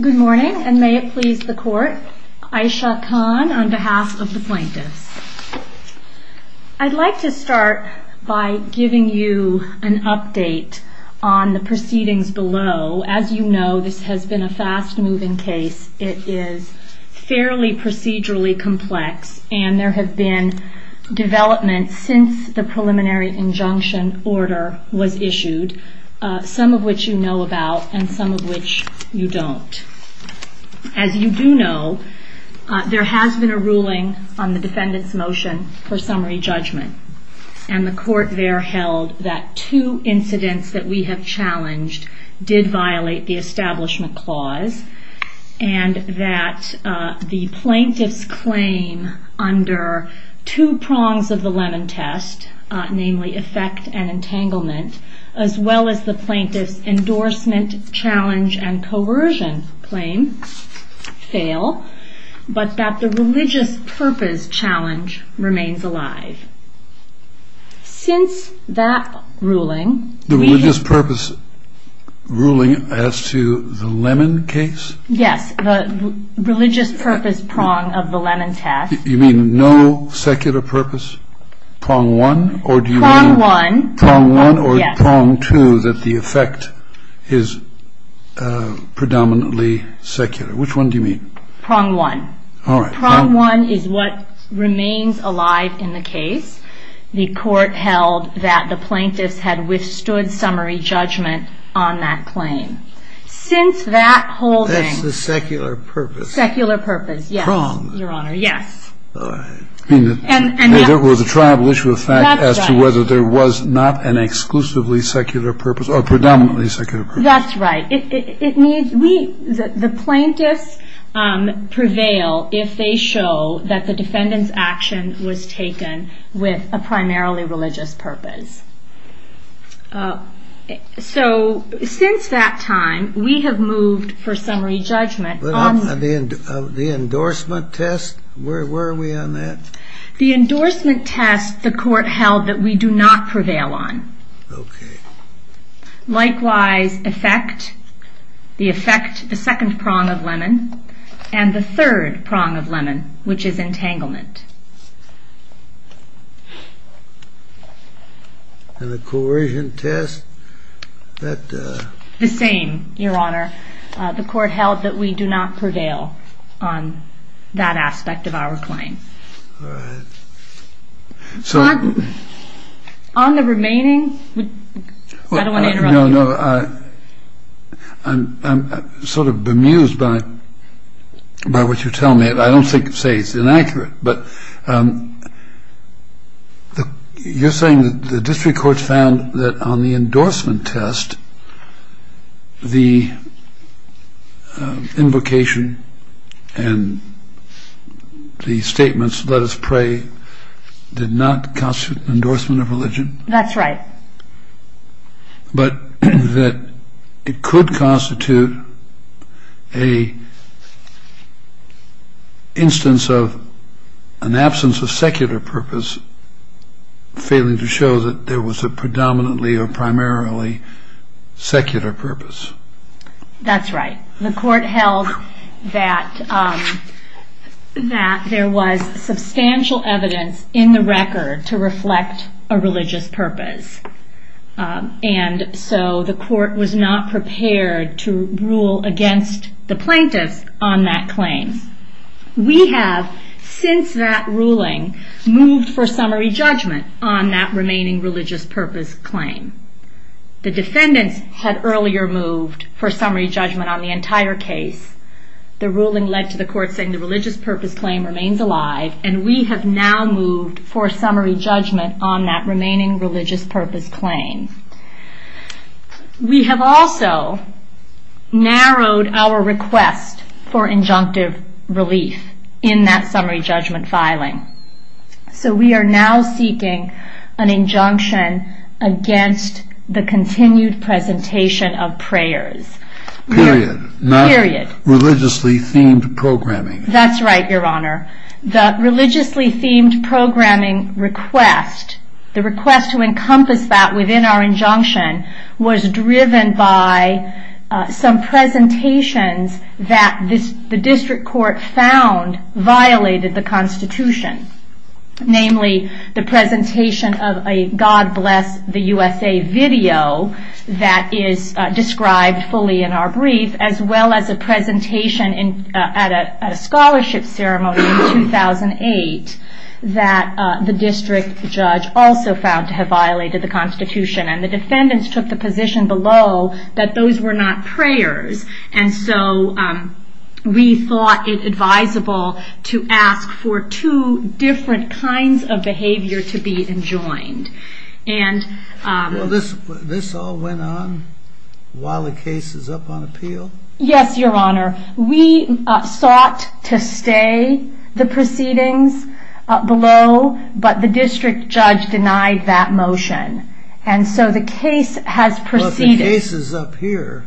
Good morning, and may it please the court, Ayesha Khan on behalf of the plaintiffs. I'd like to start by giving you an update on the proceedings below. As you know, this has been a fast-moving case. It is fairly procedurally complex, and there has been development since the preliminary injunction order was issued, some of which you know about and some of which you don't. As you do know, there has been a ruling on the defendant's motion for summary judgment, and the court there held that two incidents that we have challenged did violate the Establishment Clause, and that the plaintiff's claim under two prongs of the Lemon Test, namely effect and entanglement, as well as the plaintiff's endorsement challenge and coercion claim, fail, but that the religious purpose challenge remains alive. Since that ruling... The religious purpose ruling as to the Lemon case? Yes, the religious purpose prong of the Lemon Test. You mean no secular purpose prong one? Prong one. Prong one, or is prong two that the effect is predominantly secular? Which one do you mean? Prong one. All right. Prong one is what remains alive in the case. The court held that the plaintiff had withstood summary judgment on that claim. Since that holding... That's the secular purpose. Secular purpose, yes. Prong. Your Honor, yes. All right. And that was a tribal issue of fact as to whether there was not an exclusively secular purpose or predominantly secular purpose. That's right. The plaintiffs prevail if they show that the defendant's action was taken with a primarily religious purpose. So since that time, we have moved for summary judgment on... The endorsement test? Where are we on that? The endorsement test the court held that we do not prevail on. Okay. Likewise, effect, the effect, the second prong of lemon, and the third prong of lemon, which is entanglement. And the coercion test? The same, Your Honor. The court held that we do not prevail on that aspect of our claim. All right. So... On the remaining... I don't want to interrupt. No, no. I'm sort of bemused by what you're telling me. I don't think to say it's inaccurate, but you're saying that the district court found that on the endorsement test, the invocation and the statements, let us pray, did not constitute an endorsement of religion? That's right. But that it could constitute an instance of an absence of secular purpose, failing to show that there was a predominantly or primarily secular purpose. That's right. The court held that there was substantial evidence in the record to reflect a religious purpose. And so the court was not prepared to rule against the plaintiff on that claim. We have, since that ruling, moved for summary judgment on that remaining religious purpose claim. The defendant had earlier moved for summary judgment on the entire case. The ruling led to the court saying the religious purpose claim remains alive, and we have now moved for summary judgment on that remaining religious purpose claim. We have also narrowed our request for injunctive release in that summary judgment filing. So we are now seeking an injunction against the continued presentation of prayers. Period. Period. Not religiously themed programming. That's right, Your Honor. The religiously themed programming request, the request to encompass that within our injunction, was driven by some presentations that the district court found violated the Constitution. Namely, the presentation of a God Bless the USA video that is described fully in our brief, as well as a presentation at a scholarship ceremony in 2008 that the district judge also found to have violated the Constitution. And the defendants took the position below that those were not prayers. And so we thought it advisable to ask for two different kinds of behavior to be enjoined. This all went on while the case is up on appeal? Yes, Your Honor. We sought to stay the proceedings below, but the district judge denied that motion. And so the case has proceeded. But the case is up here.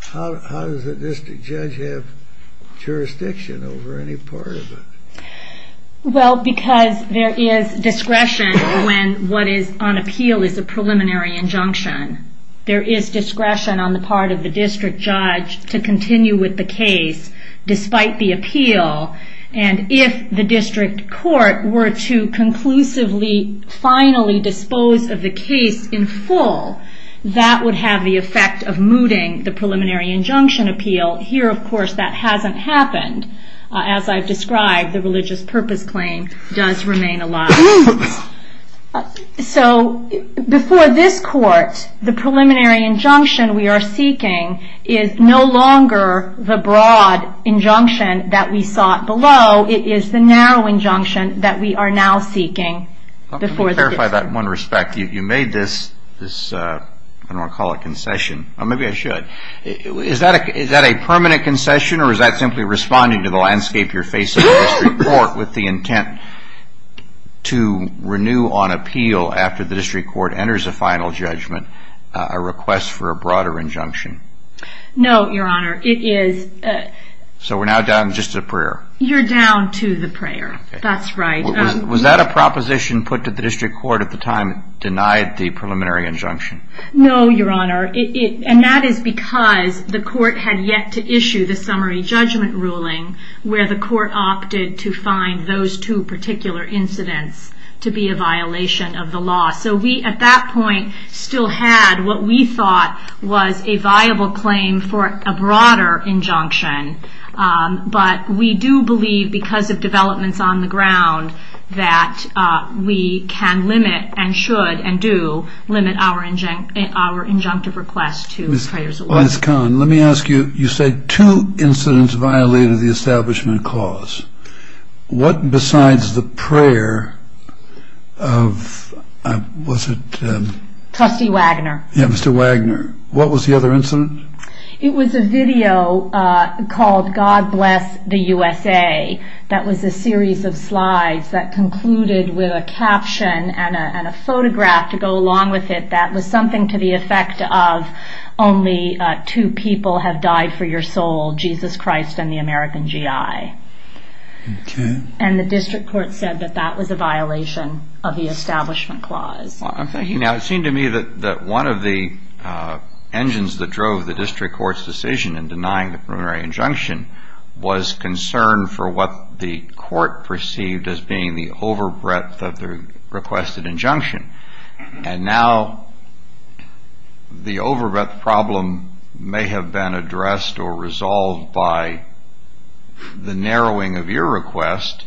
How does the district judge have jurisdiction over any part of it? Well, because there is discretion when what is on appeal is a preliminary injunction. There is discretion on the part of the district judge to continue with the case despite the appeal. And if the district court were to conclusively finally dispose of the case in full, that would have the effect of moving the preliminary injunction appeal. Here, of course, that hasn't happened. As I described, the religious purpose claim does remain alive. So before this court, the preliminary injunction we are seeking is no longer the broad injunction that we sought below. It is the narrow injunction that we are now seeking. Let me clarify that in one respect. You made this, I don't want to call it a concession, or maybe I should. Is that a permanent concession, or is that simply responding to the landscape you're facing in the district court with the intent to renew on appeal after the district court enters a final judgment a request for a broader injunction? No, Your Honor. It is. So we're now down just to the prayer. You're down to the prayer. That's right. Was that a proposition put to the district court at the time it denied the preliminary injunction? No, Your Honor. And that is because the court had yet to issue the summary judgment ruling where the court opted to find those two particular incidents to be a violation of the law. So we, at that point, still had what we thought was a viable claim for a broader injunction. But we do believe, because of developments on the ground, that we can limit and should and do limit our injunctive request to the prayers of law. Ms. Kahn, let me ask you, you said two incidents violated the establishment clause. What besides the prayer of, was it? Trustee Wagner. Yeah, Mr. Wagner. What was the other incident? It was a video called God Bless the USA. That was a series of slides that concluded with a caption and a photograph to go along with it that was something to the effect of only two people have died for your soul, Jesus Christ and the American GI. Okay. And the district court said that that was a violation of the establishment clause. Well, I'm thinking now, it seemed to me that one of the engines that drove the district court's decision in denying the primary injunction was concern for what the court perceived as being the overbreadth of the requested injunction. And now the overbreadth problem may have been addressed or resolved by the narrowing of your request.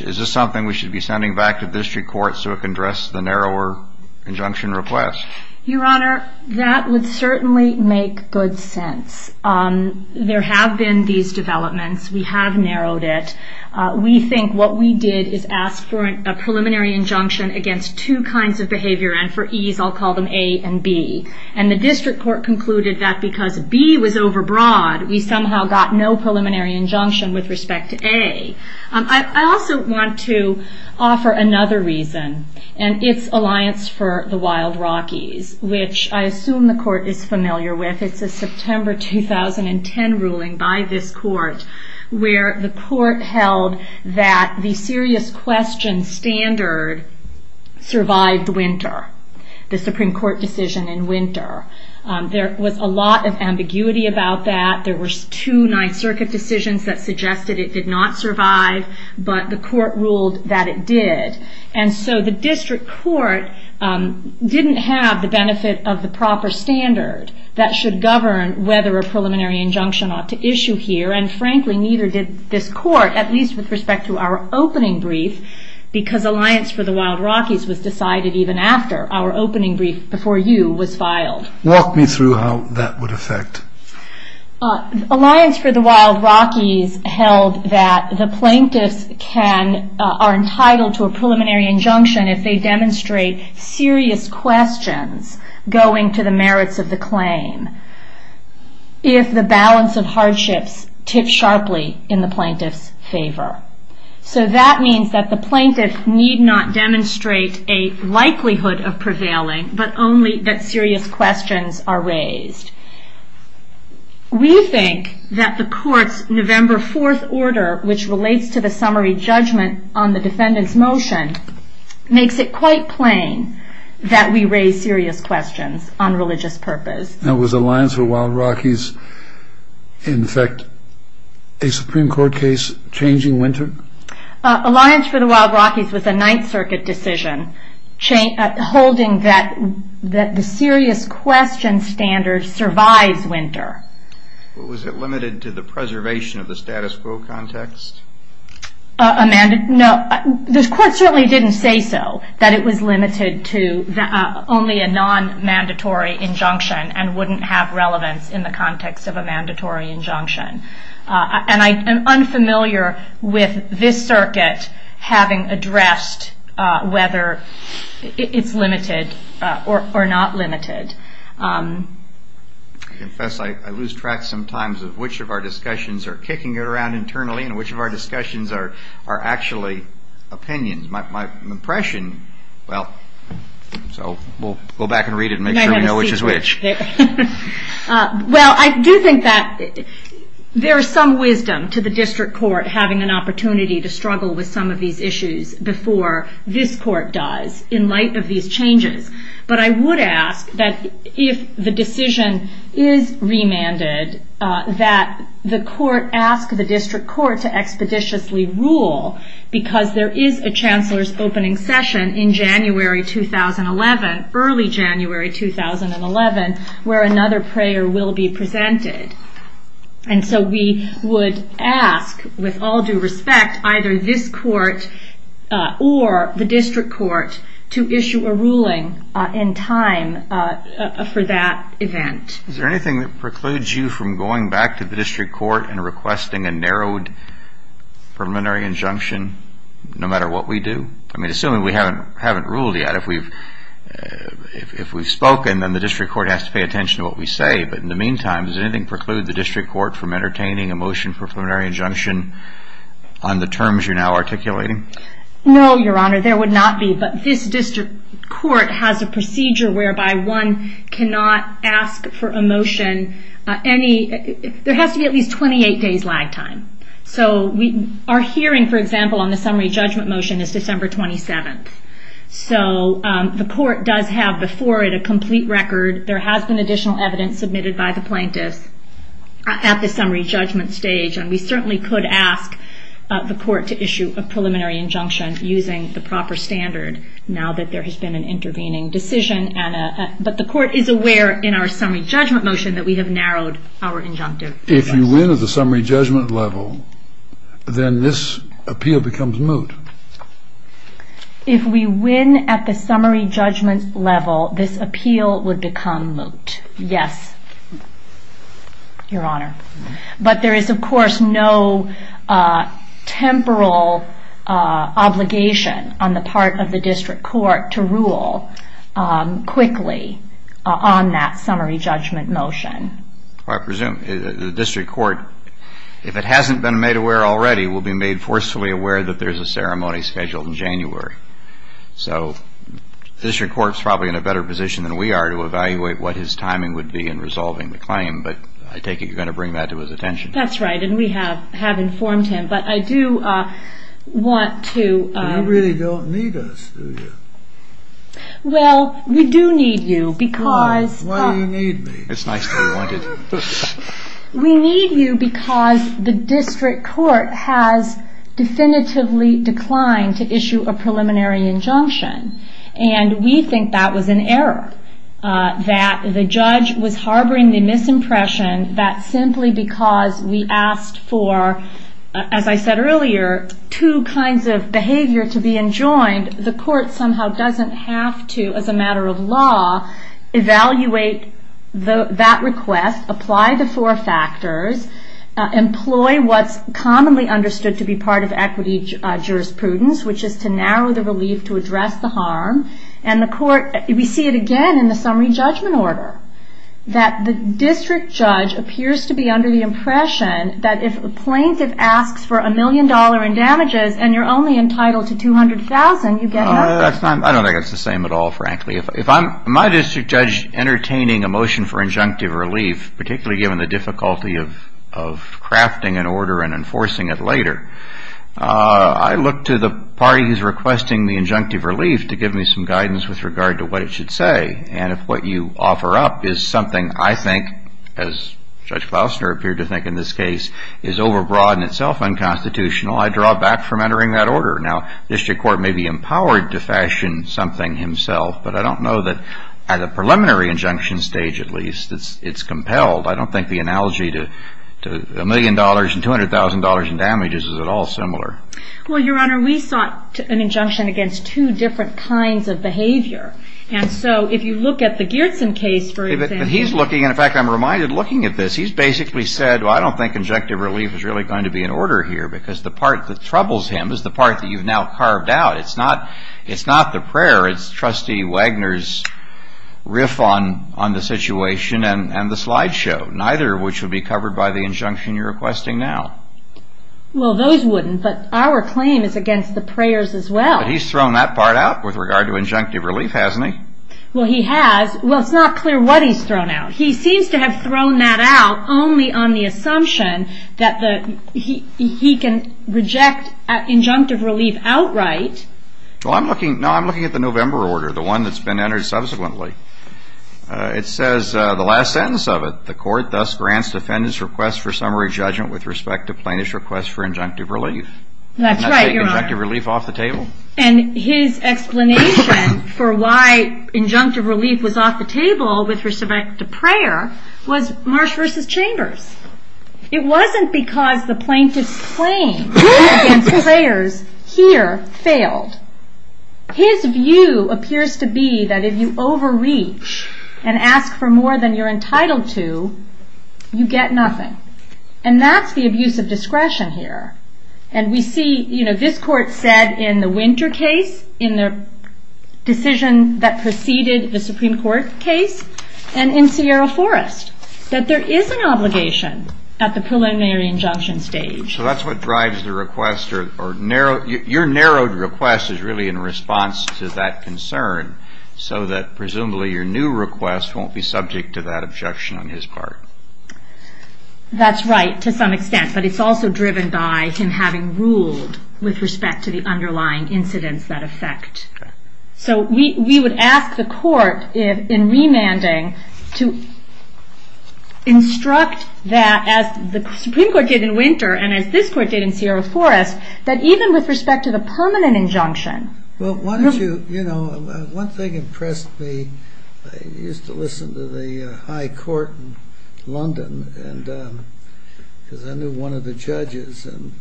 Is this something we should be sending back to district court so it can address the narrower injunction request? Your Honor, that would certainly make good sense. There have been these developments. We have narrowed it. We think what we did is ask for a preliminary injunction against two kinds of behavior. And for ease, I'll call them A and B. And the district court concluded that because B was overbroad, we somehow got no preliminary injunction with respect to A. I also want to offer another reason. And it's Alliance for the Wild Rockies, which I assume the court is familiar with. It's the September 2010 ruling by this court where the court held that the serious question standard survived winter. The Supreme Court decision in winter. There was a lot of ambiguity about that. There were two Ninth Circuit decisions that suggested it did not survive. But the court ruled that it did. And so the district court didn't have the benefit of the proper standard that should govern whether a preliminary injunction ought to issue here. And frankly, neither did this court, at least with respect to our opening brief, because Alliance for the Wild Rockies was decided even after our opening brief before you was filed. Walk me through how that would affect. Alliance for the Wild Rockies held that the plaintiffs are entitled to a preliminary injunction if they demonstrate serious questions going to the merits of the claim. If the balance of hardships tips sharply in the plaintiff's favor. So that means that the plaintiffs need not demonstrate a likelihood of prevailing, but only that serious questions are raised. We think that the court's November 4th order, which relates to the summary judgment on the defendant's motion, makes it quite plain that we raise serious questions on religious purpose. Now, was Alliance for the Wild Rockies, in effect, a Supreme Court case changing winter? Alliance for the Wild Rockies was a Ninth Circuit decision holding that the serious question standard survives winter. Was it limited to the preservation of the status quo context? No, this court certainly didn't say so, that it was limited to only a non-mandatory injunction and wouldn't have relevance in the context of a mandatory injunction. And I'm unfamiliar with this circuit having addressed whether it's limited or not limited. I confess I lose track sometimes of which of our discussions are kicking around internally and which of our discussions are actually opinions. My impression, well, so we'll go back and read it and make sure we know which is which. Well, I do think that there is some wisdom to the district court having an opportunity to struggle with some of these issues before this court does in light of these changes. But I would ask that if the decision is remanded, that the court ask the district court to expeditiously rule because there is a chancellor's opening session in January 2011, early January 2011, where another prayer will be presented. And so we would ask, with all due respect, either this court or the district court to issue a ruling in time for that event. Is there anything that precludes you from going back to the district court and requesting a narrowed preliminary injunction no matter what we do? I mean, assuming we haven't ruled yet. If we've spoken, then the district court has to pay attention to what we say. But in the meantime, does anything preclude the district court from entertaining a motion for preliminary injunction on the terms you're now articulating? No, Your Honor, there would not be. But this district court has a procedure whereby one cannot ask for a motion. There has to be at least 28 days lag time. So our hearing, for example, on the summary judgment motion is December 27th. So the court does have before it a complete record. There has been additional evidence submitted by the plaintiff at the summary judgment stage. And we certainly could ask the court to issue a preliminary injunction using the proper standard now that there has been an intervening decision. But the court is aware in our summary judgment motion that we have narrowed our injunctive. If we win at the summary judgment level, then this appeal becomes moot. If we win at the summary judgment level, this appeal would become moot. Yes, Your Honor. But there is, of course, no temporal obligation on the part of the district court to rule quickly on that summary judgment motion. I presume the district court, if it hasn't been made aware already, will be made forcefully aware that there's a ceremony scheduled in January. So the district court is probably in a better position than we are to evaluate what his timing would be in resolving the claim. But I take it you're going to bring that to his attention. That's right, and we have informed him. But I do want to – You really don't need us, do you? Well, we do need you because – Why do you need me? We need you because the district court has definitively declined to issue a preliminary injunction. And we think that was an error, that the judge was harboring the misimpression that simply because we asked for, as I said earlier, two kinds of behavior to be enjoined, the court somehow doesn't have to, as a matter of law, evaluate that request, apply the four factors, employ what's commonly understood to be part of equity jurisprudence, which is to narrow the relief to address the harm. And the court – we see it again in the summary judgment order, that the district judge appears to be under the impression that if a plaintiff asks for a million dollars in damages and you're only entitled to $200,000, you definitely – I don't think it's the same at all, frankly. If I'm – my district judge entertaining a motion for injunctive relief, particularly given the difficulty of crafting an order and enforcing it later, I look to the party who's requesting the injunctive relief to give me some guidance with regard to what it should say. And if what you offer up is something I think, as Judge Faustner appeared to think in this case, is overbroad and itself unconstitutional, I draw back from entering that order. Now, district court may be empowered to fashion something himself, but I don't know that at a preliminary injunction stage, at least, it's compelled. I don't think the analogy to a million dollars and $200,000 in damages is at all similar. Well, Your Honor, we sought an injunction against two different kinds of behavior. And so if you look at the Gerson case, for example – And he's looking – in fact, I'm reminded looking at this, he's basically said, well, I don't think injunctive relief is really going to be in order here because the part that troubles him is the part that you've now carved out. It's not the prayer. It's Trustee Wagner's riff on the situation and the slideshow, neither of which would be covered by the injunction you're requesting now. Well, those wouldn't, but our claim is against the prayers as well. He's thrown that part out with regard to injunctive relief, hasn't he? Well, he has. Well, it's not clear what he's thrown out. He seems to have thrown that out only on the assumption that he can reject injunctive relief outright. Well, I'm looking – no, I'm looking at the November order, the one that's been entered subsequently. It says, the last sentence of it, the court thus grants the defendant's request for summary judgment with respect to plaintiff's request for injunctive relief. That's right, Your Honor. And his explanation for why injunctive relief was off the table with respect to prayer was Marsh versus Chambers. It wasn't because the plaintiff's claim in prayers here failed. His view appears to be that if you overreach and ask for more than you're entitled to, you get nothing. And that's the abuse of discretion here. And we see, you know, this court said in the Winter case, in the decision that preceded the Supreme Court case, and in Sierra Forest, that there is an obligation at the preliminary injunction stage. So that's what drives the request, or narrow – your narrowed request is really in response to that concern, so that presumably your new request won't be subject to that objection on his part. That's right, to some extent. But it's also driven by him having ruled with respect to the underlying incidents that affect. So we would ask the court in remanding to instruct that, as the Supreme Court did in Winter, and as this court did in Sierra Forest, that even with respect to the permanent injunction – Well, why don't you – you know, one thing impressed me. I used to listen to the High Court in London, because I knew one of the judges. And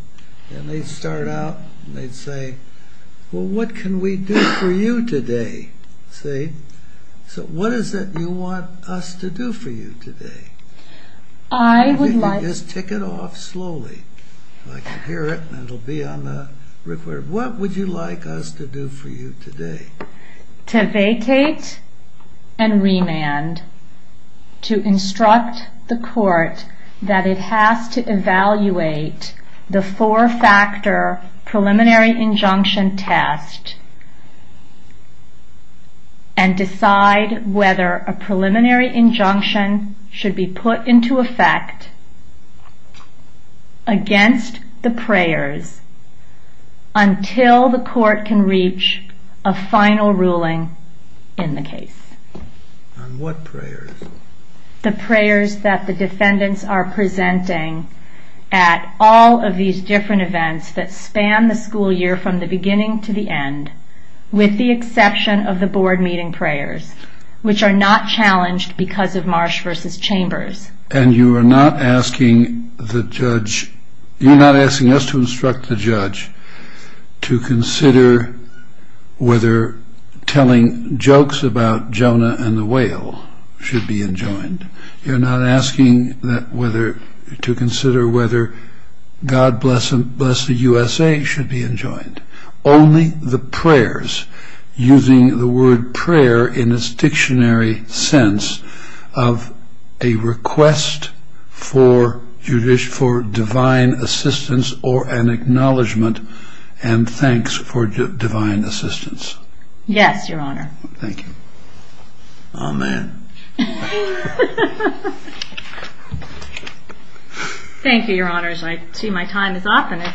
they'd start out, and they'd say, well, what can we do for you today, see? So what is it you want us to do for you today? I would like – Just take it off slowly, so I can hear it, and it'll be on the record. What would you like us to do for you today? To vacate and remand, to instruct the court that it has to evaluate the four-factor preliminary injunction test and decide whether a preliminary injunction should be put into effect against the prayers until the court can reach a final ruling in the case. On what prayers? The prayers that the defendants are presenting at all of these different events that span the school year from the beginning to the end, with the exception of the board meeting prayers, which are not challenged because of Marsh v. Chambers. And you are not asking the judge – you're not asking us to instruct the judge to consider whether telling jokes about Jonah and the whale should be enjoined. You're not asking to consider whether God bless the USA should be enjoined. Only the prayers, using the word prayer in its dictionary sense, of a request for divine assistance or an acknowledgment and thanks for divine assistance. Yes, Your Honor. Thank you. Amen. Thank you, Your Honors. I see my time is up. Are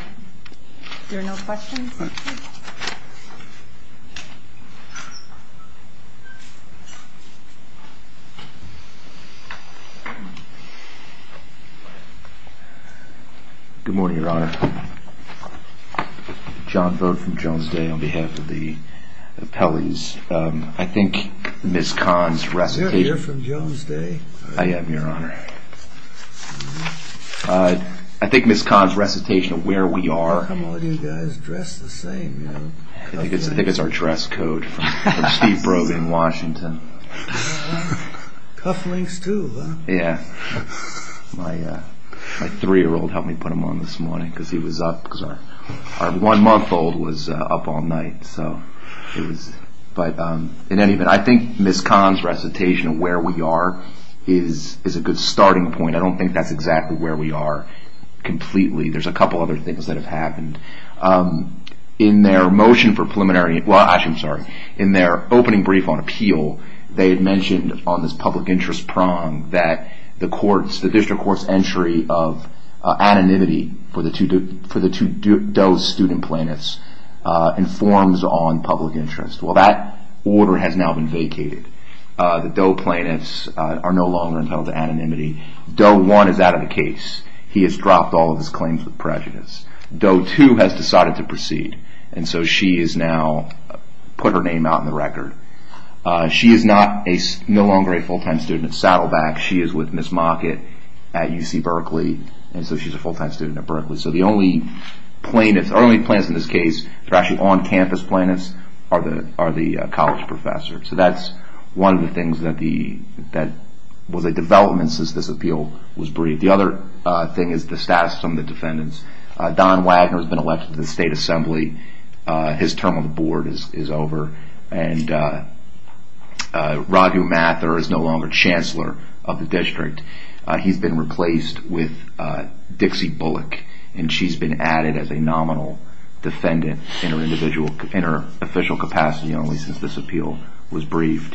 there no questions? Good morning, Your Honor. John Burke from Jones Day on behalf of the appellees. I think Ms. Kahn's recitation – You're here from Jones Day? I am, Your Honor. I think Ms. Kahn's recitation of where we are – How come all of you guys dress the same? I think it's our dress code from Steve Brogan, Washington. Cuff links too, huh? Yeah. My three-year-old helped me put them on this morning because he was up. My one-month-old was up all night. But in any event, I think Ms. Kahn's recitation of where we are is a good starting point. I don't think that's exactly where we are completely. There's a couple other things that have happened. In their motion for preliminary – well, actually, I'm sorry. In their opening brief on appeal, they had mentioned on this public interest prong that the district court's entry of anonymity for the two Doe student plaintiffs informs on public interest. Well, that order has now been vacated. The Doe plaintiffs are no longer entitled to anonymity. Doe 1 is out of the case. He has dropped all of his claims of prejudice. Doe 2 has decided to proceed, and so she has now put her name out on the record. She is no longer a full-time student at Saddleback. She is with Ms. Mockett at UC Berkeley, and so she's a full-time student at Berkeley. So the only plaintiffs – the only plaintiffs in this case – they're actually on-campus plaintiffs – are the college professors. So that's one of the things that – well, the development since this appeal was briefed. The other thing is the status of some of the defendants. Don Wagner has been elected to the state assembly. His term on the board is over. And Roger Mather is no longer chancellor of the district. He's been replaced with Dixie Bullock, and she's been added as a nominal defendant in her individual – in her official capacity only since this appeal was briefed.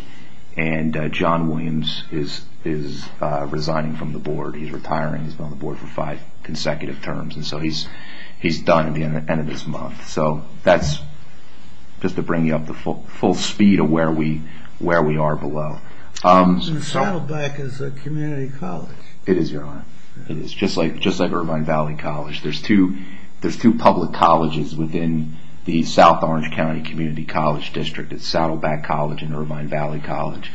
And John Williams is resigning from the board. He's retiring. He's been on the board for five consecutive terms. And so he's done at the end of this month. So that's just to bring you up to full speed of where we are below. And Saddleback is a community college. It is, Your Honor. It is, just like Irvine Valley College. There's two public colleges within the South Orange County Community College District. It's Saddleback College and Irvine Valley College.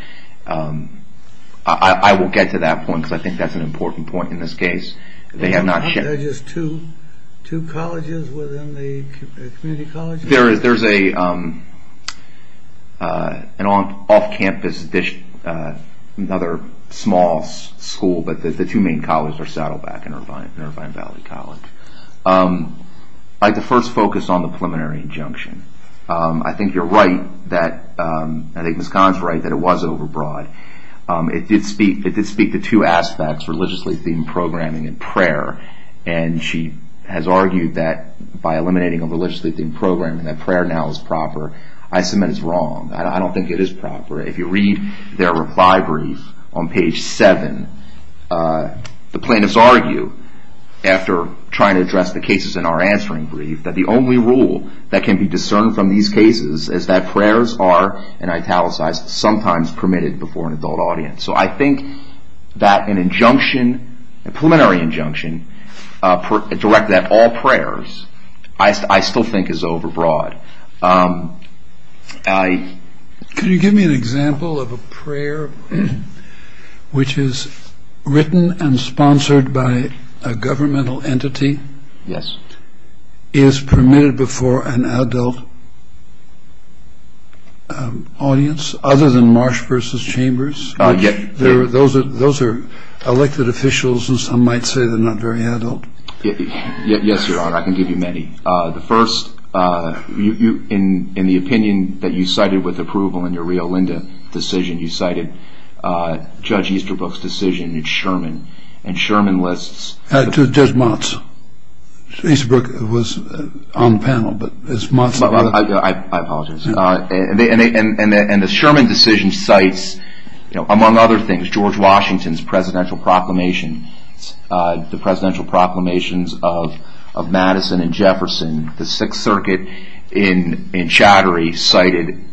I will get to that point because I think that's an important point in this case. They have not – Are there just two colleges within the community colleges? There's an off-campus – another small school, but the two main colleges are Saddleback and Irvine Valley College. I could first focus on the preliminary injunction. I think you're right that – I think Ms. Kahn's right that it was overbroad. It did speak to two aspects, religiously-themed programming and prayer. And she has argued that by eliminating a religiously-themed programming that prayer now is proper. I submit it's wrong. I don't think it is proper. If you read their reply brief on page 7, the plaintiffs argue, after trying to address the cases in our answering brief, that the only rule that can be discerned from these cases is that prayers are, and I italicize, sometimes permitted before an adult audience. So I think that an injunction, a preliminary injunction, directed at all prayers, I still think is overbroad. Can you give me an example of a prayer which is written and sponsored by a governmental entity? Yes. Is permitted before an adult audience other than Marsh v. Chambers? Those are elected officials, and some might say they're not very adult. Yes, Your Honor, I can give you many. The first, in the opinion that you cited with approval in your Rio Linda decision, you cited Judge Easterbrook's decision in Sherman, and Sherman lists – To Judge Monson. Easterbrook was on the panel, but it's Monson. I apologize. And the Sherman decision cites, among other things, George Washington's presidential proclamations, the presidential proclamations of Madison and Jefferson. The Sixth Circuit in Chattery cited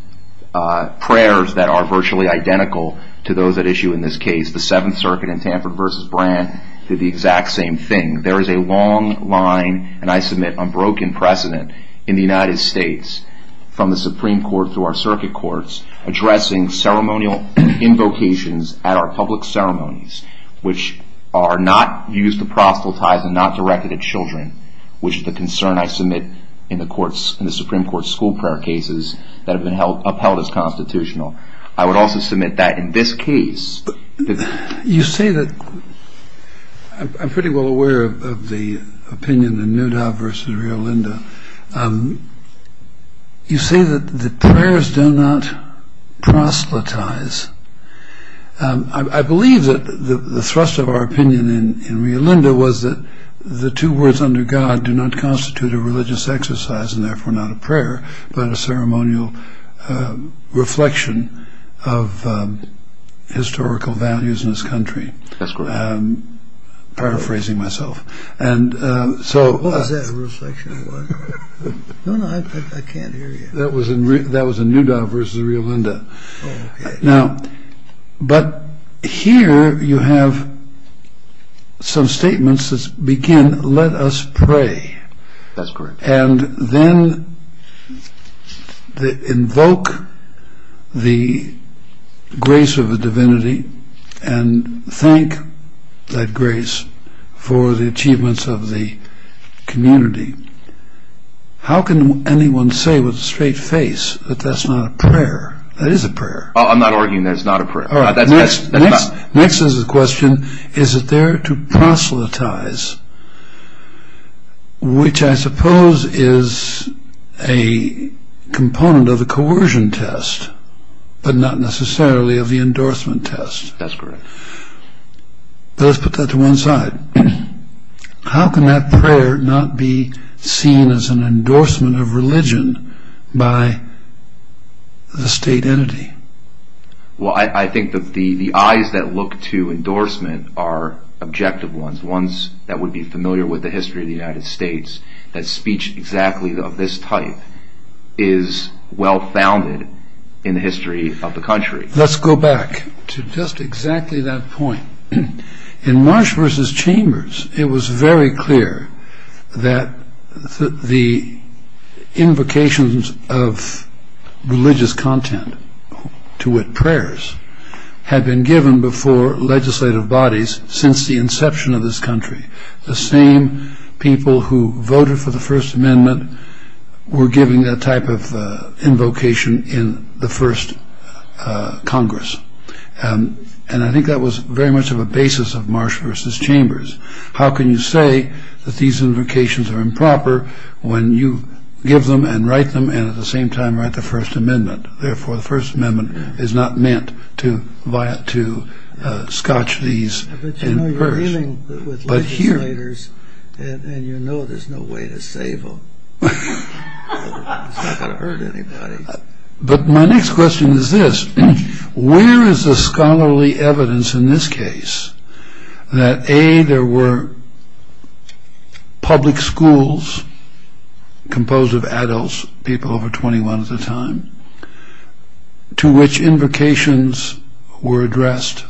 prayers that are virtually identical to those at issue in this case. The Seventh Circuit in Tamper v. Brandt did the exact same thing. There is a long line, and I submit, unbroken precedent in the United States, from the Supreme Court through our circuit courts, addressing ceremonial invocations at our public ceremonies, which are not used to proselytize and not directed at children, which is the concern I submit in the Supreme Court school prayer cases that have been upheld as constitutional. I would also submit that in this case – You see that – I'm pretty well aware of the opinion in Newdow v. Rio Linda. You see that the prayers do not proselytize. I believe that the thrust of our opinion in Rio Linda was that the two words under God do not constitute a religious exercise, and therefore not a prayer, but a ceremonial reflection of historical values in this country. That's correct. I'm paraphrasing myself. What was that reflection? No, no, I can't hear you. That was in Newdow v. Rio Linda. But here you have some statements that begin, let us pray. That's correct. And then invoke the grace of the divinity and thank that grace for the achievements of the community. How can anyone say with a straight face that that's not a prayer? That is a prayer. I'm not arguing that it's not a prayer. Next is a question. Is it there to proselytize, which I suppose is a component of the coercion test, but not necessarily of the endorsement test? That's correct. Let's put that to one side. How can that prayer not be seen as an endorsement of religion by the state entity? Well, I think that the eyes that look to endorsement are objective ones, ones that would be familiar with the history of the United States, that speech exactly of this type is well-founded in the history of the country. Let's go back to just exactly that point. In Marsh v. Chambers, it was very clear that the invocations of religious content, to wit, prayers, had been given before legislative bodies since the inception of this country. The same people who voted for the First Amendment were given that type of invocation in the first Congress. And I think that was very much of a basis of Marsh v. Chambers. How can you say that these invocations are improper when you give them and write them, and at the same time write the First Amendment? Therefore, the First Amendment is not meant to scotch these in the first. But you know you're dealing with legislators, and you know there's no way to save them. It's not going to hurt anybody. But my next question is this. Where is the scholarly evidence in this case that, A, there were public schools composed of adults, people over 21 at the time, to which invocations were addressed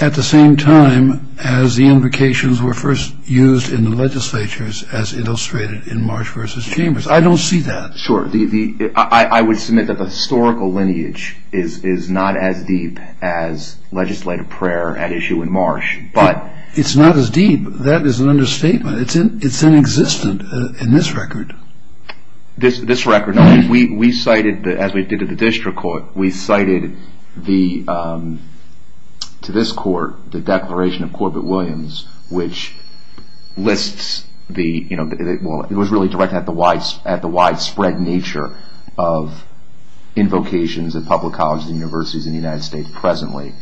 at the same time as the invocations were first used in the legislatures as illustrated in Marsh v. Chambers? I don't see that. Sure. I would submit that the historical lineage is not as deep as legislative prayer at issue in Marsh. But it's not as deep. That is an understatement. It's inexistent in this record. This record? No, we cited, as we did at the district court, we cited to this court the Declaration of Corbett-Williams, which was really directed at the widespread nature of invocations at public colleges and universities in the United States presently.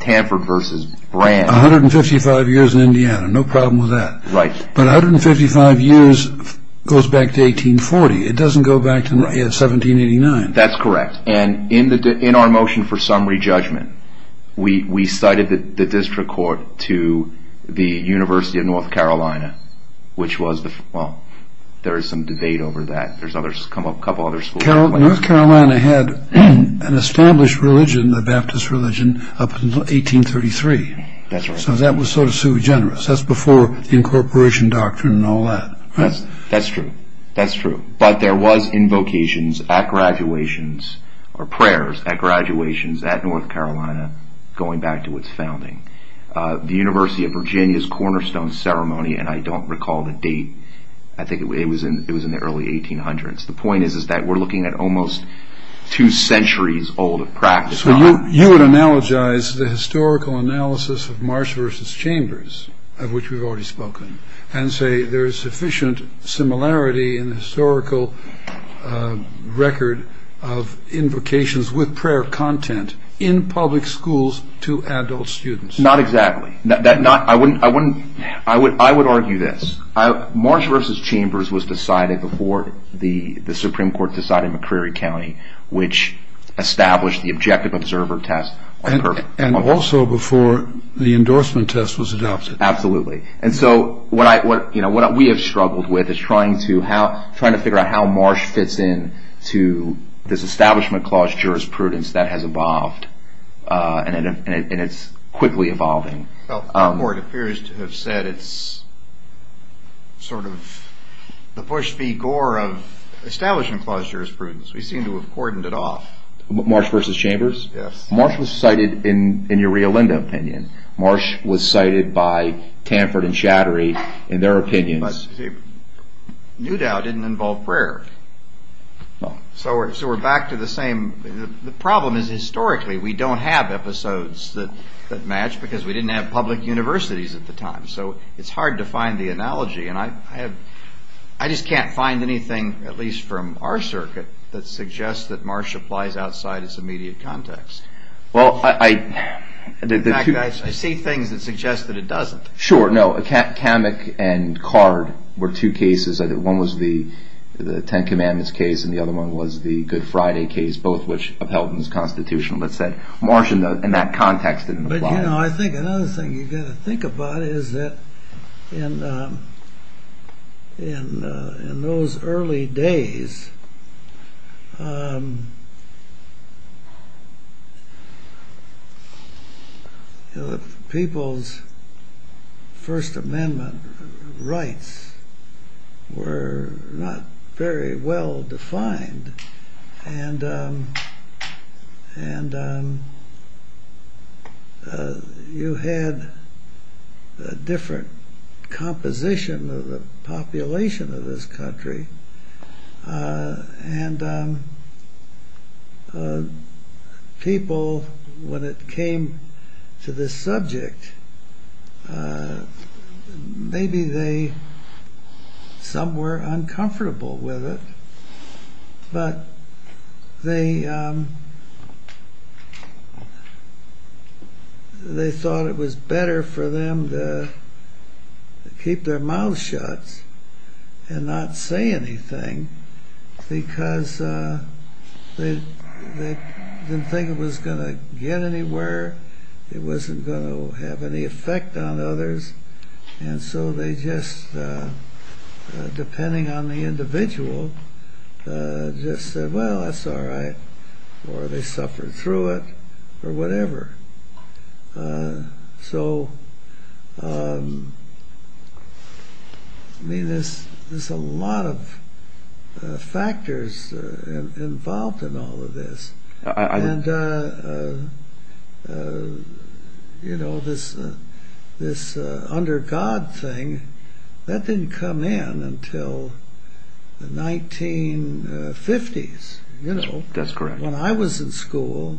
Tamper v. Brandt. 155 years in Indiana, no problem with that. Right. But 155 years goes back to 1840. It doesn't go back to 1789. That's correct. In our motion for summary judgment, we cited the district court to the University of North Carolina, which was, well, there is some debate over that. There's a couple other schools. North Carolina had an established religion, the Baptist religion, up until 1833. That's right. So that was sort of sui generis. That's before incorporation doctrine and all that. That's true. That's true. But there was invocations at graduations or prayers at graduations at North Carolina going back to its founding. The University of Virginia's cornerstone ceremony, and I don't recall the date. I think it was in the early 1800s. The point is that we're looking at almost two centuries old of practice. You would analogize the historical analysis of Marsh v. Chambers, of which we've already spoken, and say there is sufficient similarity in the historical record of invocations with prayer content in public schools to adult students. Not exactly. I would argue this. Marsh v. Chambers was decided before the Supreme Court decided McCreary County, which established the objective observer test. And also before the endorsement test was adopted. Absolutely. And so what we have struggled with is trying to figure out how Marsh fits in to this establishment clause jurisprudence that has evolved, and it's quickly evolving. The court appears to have said it's sort of the Bush v. Gore of establishment clause jurisprudence. We seem to have cordoned it off. Marsh v. Chambers? Yes. Marsh was cited in a real limbic opinion. Marsh was cited by Tamford and Chattery in their opinions. But Newdow didn't involve prayer. No. So we're back to the same. The problem is historically we don't have episodes that match because we didn't have public universities at the time. So it's hard to find the analogy. And I just can't find anything, at least from our circuit, that suggests that Marsh applies outside its immediate context. In fact, I see things that suggest that it doesn't. Sure. No. Tammock and Card were two cases. One was the Ten Commandments case, and the other one was the Good Friday case, both of which upheld this Constitution. But Marsh in that context didn't apply. I think another thing you've got to think about is that in those early days, people's First Amendment rights were not very well defined. And you had a different composition of the population of this country. And people, when it came to this subject, maybe some were uncomfortable with it. But they thought it was better for them to keep their mouths shut and not say anything because they didn't think it was going to get anywhere. It wasn't going to have any effect on others. And so they just, depending on the individual, just said, well, that's all right. Or they suffered through it or whatever. So, I mean, there's a lot of factors involved in all of this. And, you know, this under God thing, that didn't come in until the 1950s. That's correct. When I was in school,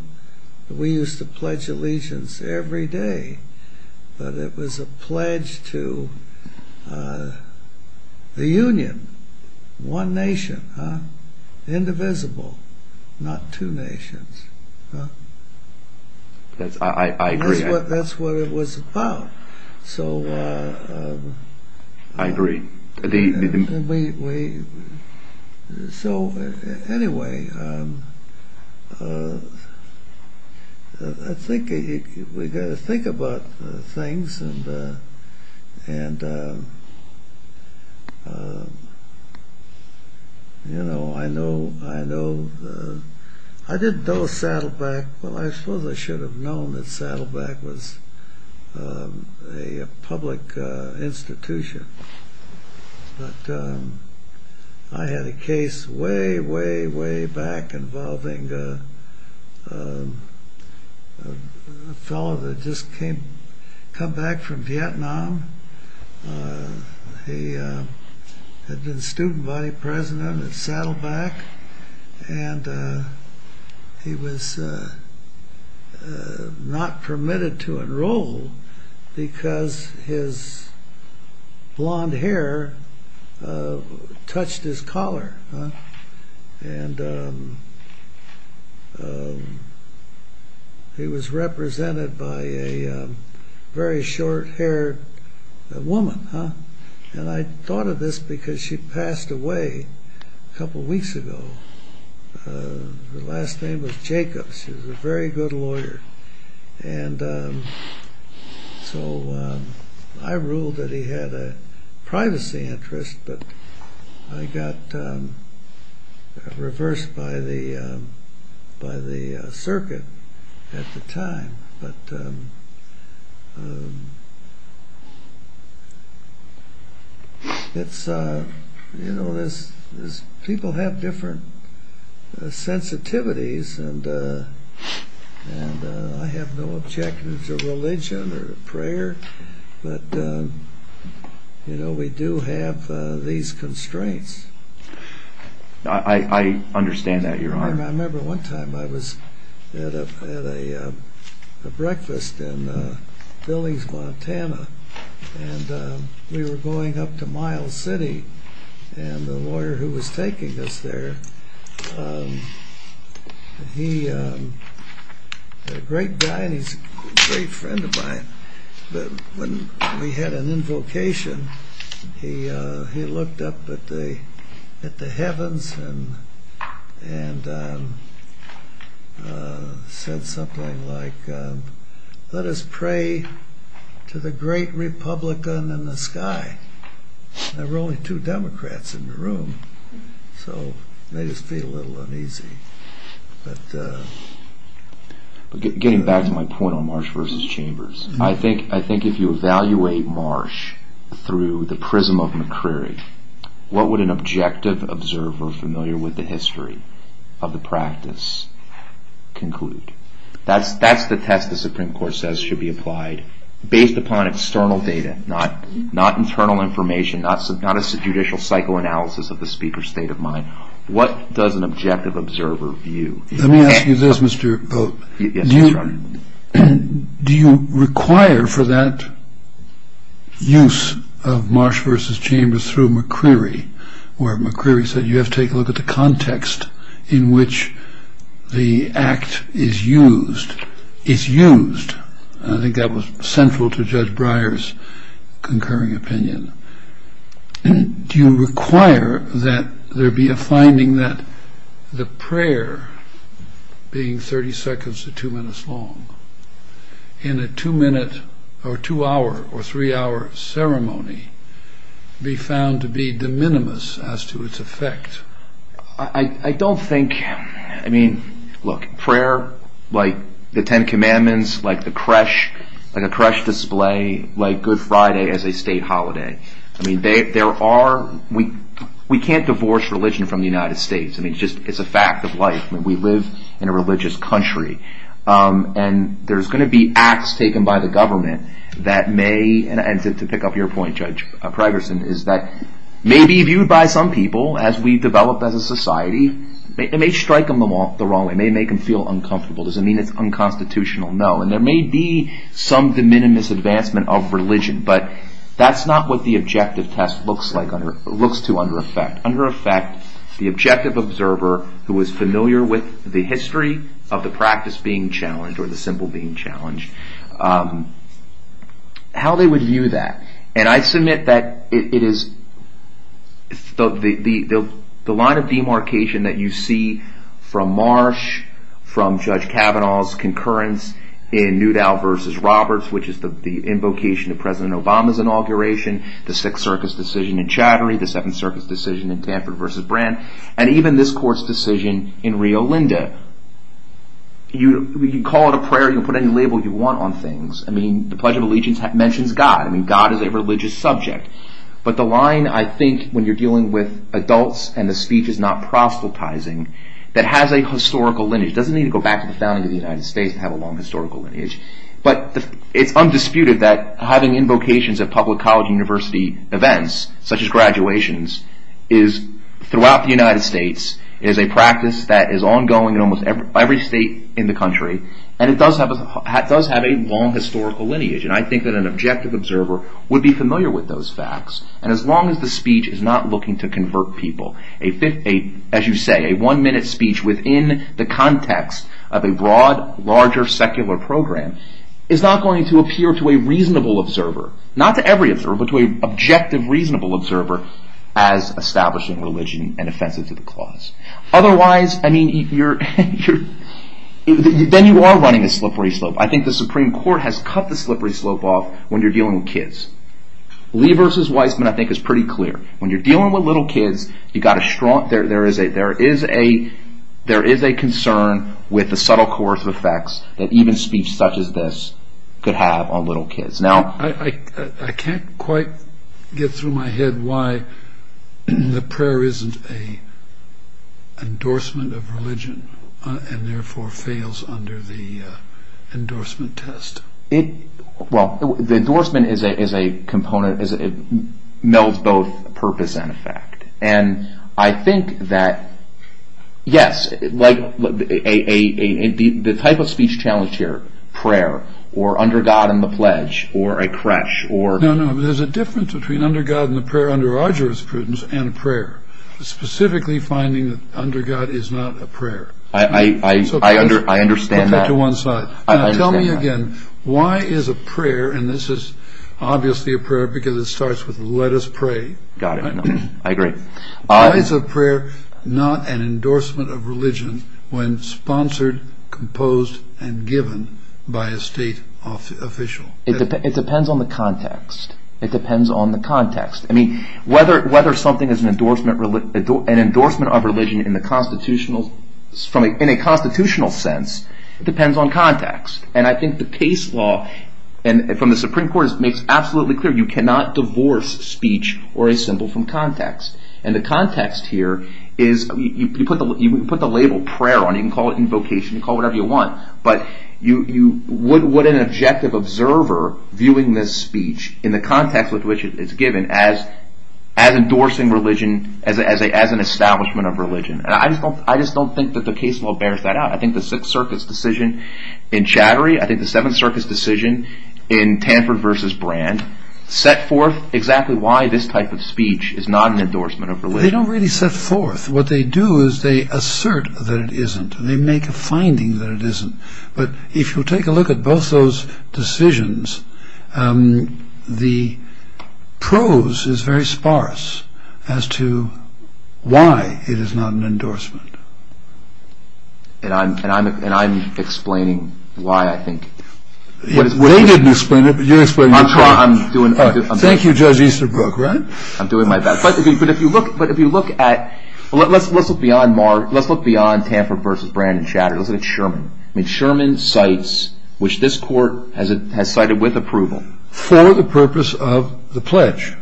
we used to pledge allegiance every day. But it was a pledge to the union, one nation, indivisible, not two nations. I agree. That's what it was about. I agree. So, anyway, I think we've got to think about things. And, you know, I know I didn't know Saddleback. Well, I suppose I should have known that Saddleback was a public institution. But I had a case way, way, way back involving a fellow that had just come back from Vietnam. He had been student body president at Saddleback. And he was not permitted to enroll because his blonde hair touched his collar. And he was represented by a very short-haired woman. And I thought of this because she passed away a couple weeks ago. Her last name was Jacob. She was a very good lawyer. And so I ruled that he had a privacy interest. But I got reversed by the circuit at the time. But, you know, people have different sensitivities. And I have no objections to religion or prayer. But, you know, we do have these constraints. I understand that, Your Honor. I remember one time I was at a breakfast in Billings, Montana. And we were going up to Miles City. And the lawyer who was taking us there, he was a great guy and he was a great friend of mine. When we had an invocation, he looked up at the heavens and said something like, Let us pray to the great Republican in the sky. There were only two Democrats in the room. So it made us feel a little uneasy. But getting back to my point on Marsh v. Chambers, I think if you evaluate Marsh through the prism of McCrary, what would an objective observer familiar with the history of the practice conclude? That's the test the Supreme Court says should be applied based upon external data, not internal information, not a judicial psychoanalysis of the speaker's state of mind. What does an objective observer view? Let me ask you this, Mr. Pope. Do you require for that use of Marsh v. Chambers through McCrary, where McCrary said you have to take a look at the context in which the act is used? It's used. I think that was central to Judge Breyer's concurring opinion. Do you require that there be a finding that the prayer, being 30 seconds to two minutes long, in a two-minute or two-hour or three-hour ceremony, be found to be de minimis as to its effect? I don't think—I mean, look, prayer, like the Ten Commandments, like the creche, like a creche display, like Good Friday as a state holiday. I mean, there are—we can't divorce religion from the United States. I mean, it's just—it's a fact of life. I mean, we live in a religious country, and there's going to be acts taken by the government that may— and to pick up your point, Judge Pregerson, is that may be viewed by some people as we develop as a society. It may strike them the wrong way. It may make them feel uncomfortable. Does it mean it's unconstitutional? No. And there may be some de minimis advancement of religion, but that's not what the objective test looks to under effect. Under effect, the objective observer who is familiar with the history of the practice being challenged or the symbol being challenged, how they would view that. And I submit that it is—the line of demarcation that you see from Marsh, from Judge Kavanaugh's concurrence in Newdow v. Roberts, which is the invocation of President Obama's inauguration, the Sixth Circus decision in Chattery, the Seventh Circus decision in Tamper v. Brandt, and even this court's decision in Rio Linda. You can call it a prayer. You can put any label you want on things. I mean, the Pledge of Allegiance mentions God. I mean, God is a religious subject. But the line, I think, when you're dealing with adults and the speech is not proselytizing, that has a historical lineage. It doesn't need to go back to the founding of the United States and have a long historical lineage. But it's undisputed that having invocations at public college university events, such as graduations, is—throughout the United States, it is a practice that is ongoing in almost every state in the country, and it does have a long historical lineage. And I think that an objective observer would be familiar with those facts. And as long as the speech is not looking to convert people, as you say, a one-minute speech within the context of a broad, larger, secular program is not going to appear to a reasonable observer, not to every observer, but to an objective, reasonable observer as establishing religion and offensive to the class. Otherwise, I mean, then you are running a slippery slope. I think the Supreme Court has cut the slippery slope off when you're dealing with kids. Lee v. Weisman, I think, is pretty clear. When you're dealing with little kids, you've got to— there is a concern with the subtle coercive effects that even speech such as this could have on little kids. Now, I can't quite get through my head why the prayer isn't an endorsement of religion and therefore fails under the endorsement test. Well, the endorsement is a component that melds both purpose and effect. And I think that, yes, the type of speech challenged here, prayer, or under God and the pledge, or a creche, or— No, no, there's a difference between under God and the prayer under our jurisprudence and prayer, specifically finding that under God is not a prayer. I understand that. Now, tell me again, why is a prayer, and this is obviously a prayer because it starts with let us pray. Got it. I agree. Why is a prayer not an endorsement of religion when sponsored, composed, and given by a state official? I mean, whether something is an endorsement of religion in a constitutional sense depends on context. And I think the case law from the Supreme Court makes absolutely clear you cannot divorce speech or a symbol from context. And the context here is—you can put the label prayer on it, you can call it invocation, you can call it whatever you want, but would an objective observer viewing this speech in the context with which it's given as endorsing religion, as an establishment of religion? And I just don't think that the case law bears that out. I think the Sixth Circus decision in Chattery, I think the Seventh Circus decision in Tanford v. Brand set forth exactly why this type of speech is not an endorsement of religion. They don't really set forth. What they do is they assert that it isn't, and they make a finding that it isn't. But if you take a look at both those decisions, the prose is very sparse as to why it is not an endorsement. And I'm explaining why I think— They didn't explain it, but you're explaining it. Thank you, Judge Easterbrook. I'm doing my best. But if you look at—let's look beyond Mark. Let's look beyond Tanford v. Brand in Chattery. Let's look at Sherman. Sherman cites, which this court has cited with approval— For the purpose of the pledge.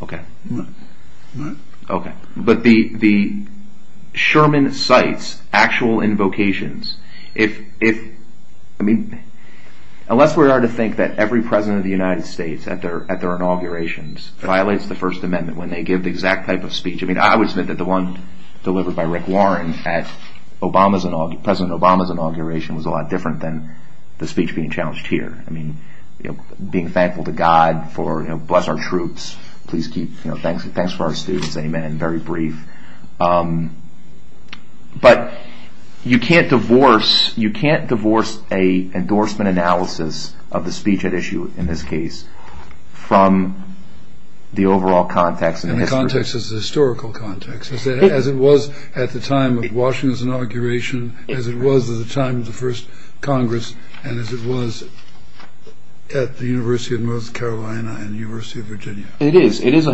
Okay. But the Sherman cites actual invocations. Unless we are to think that every president of the United States at their inaugurations violates the First Amendment when they give the exact type of speech— I mean, I would submit that the one delivered by Rick Warren at President Obama's inauguration was a lot different than the speech being challenged here. I mean, being thankful to God for, you know, bless our troops. Please keep—thanks for our students. Amen. Very brief. But you can't divorce a endorsement analysis of the speech at issue in this case from the overall context and history. And the context is a historical context, as it was at the time of Washington's inauguration, as it was at the time of the first Congress, and as it was at the University of North Carolina and the University of Virginia. It is. It is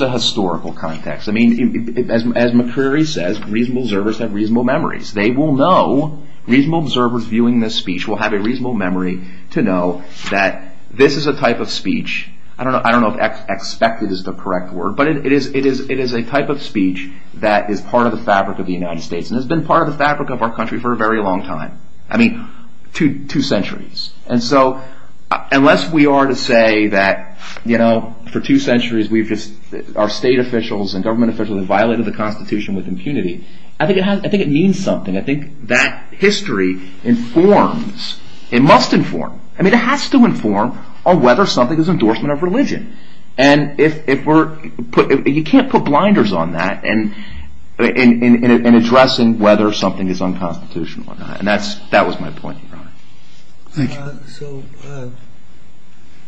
a historical context. I mean, as McCreary says, reasonable observers have reasonable memories. They will know—reasonable observers viewing this speech will have a reasonable memory to know that this is a type of speech—I don't know if expected is the correct word, but it is a type of speech that is part of the fabric of the United States and has been part of the fabric of our country for a very long time. I mean, two centuries. And so, unless we are to say that, you know, for two centuries we've just— our state officials and government officials have violated the Constitution with impunity, I think it means something. I think that history informs—it must inform. I mean, it has to inform on whether something is an endorsement of religion. And if we're—you can't put blinders on that in addressing whether something is unconstitutional. And that was my point. So,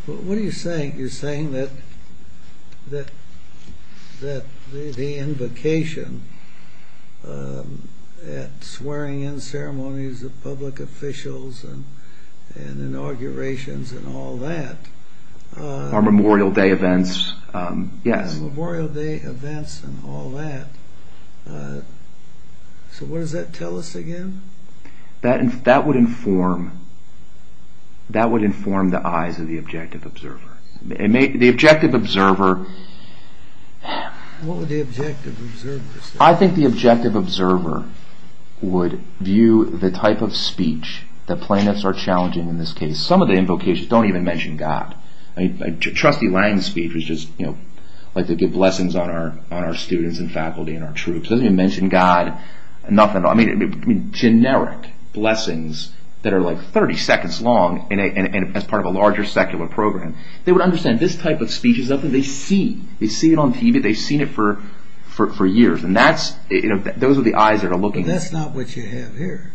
what are you saying? You're saying that the invocation at swearing-in ceremonies of public officials and inaugurations and all that— Or Memorial Day events. Yeah, Memorial Day events and all that. So, what does that tell us again? That would inform the eyes of the objective observer. The objective observer— What would the objective observer say? I think the objective observer would view the type of speech that plaintiffs are challenging in this case. Some of the invocations don't even mention God. I mean, trustee Lang's speech was just, you know, like to give blessings on our students and faculty and our troops. It doesn't even mention God. I mean, generic blessings that are like 30 seconds long and as part of a larger secular program. They would understand this type of speech is something they see. They see it on TV. They've seen it for years. And that's—those are the eyes that are looking. But that's not what you have here.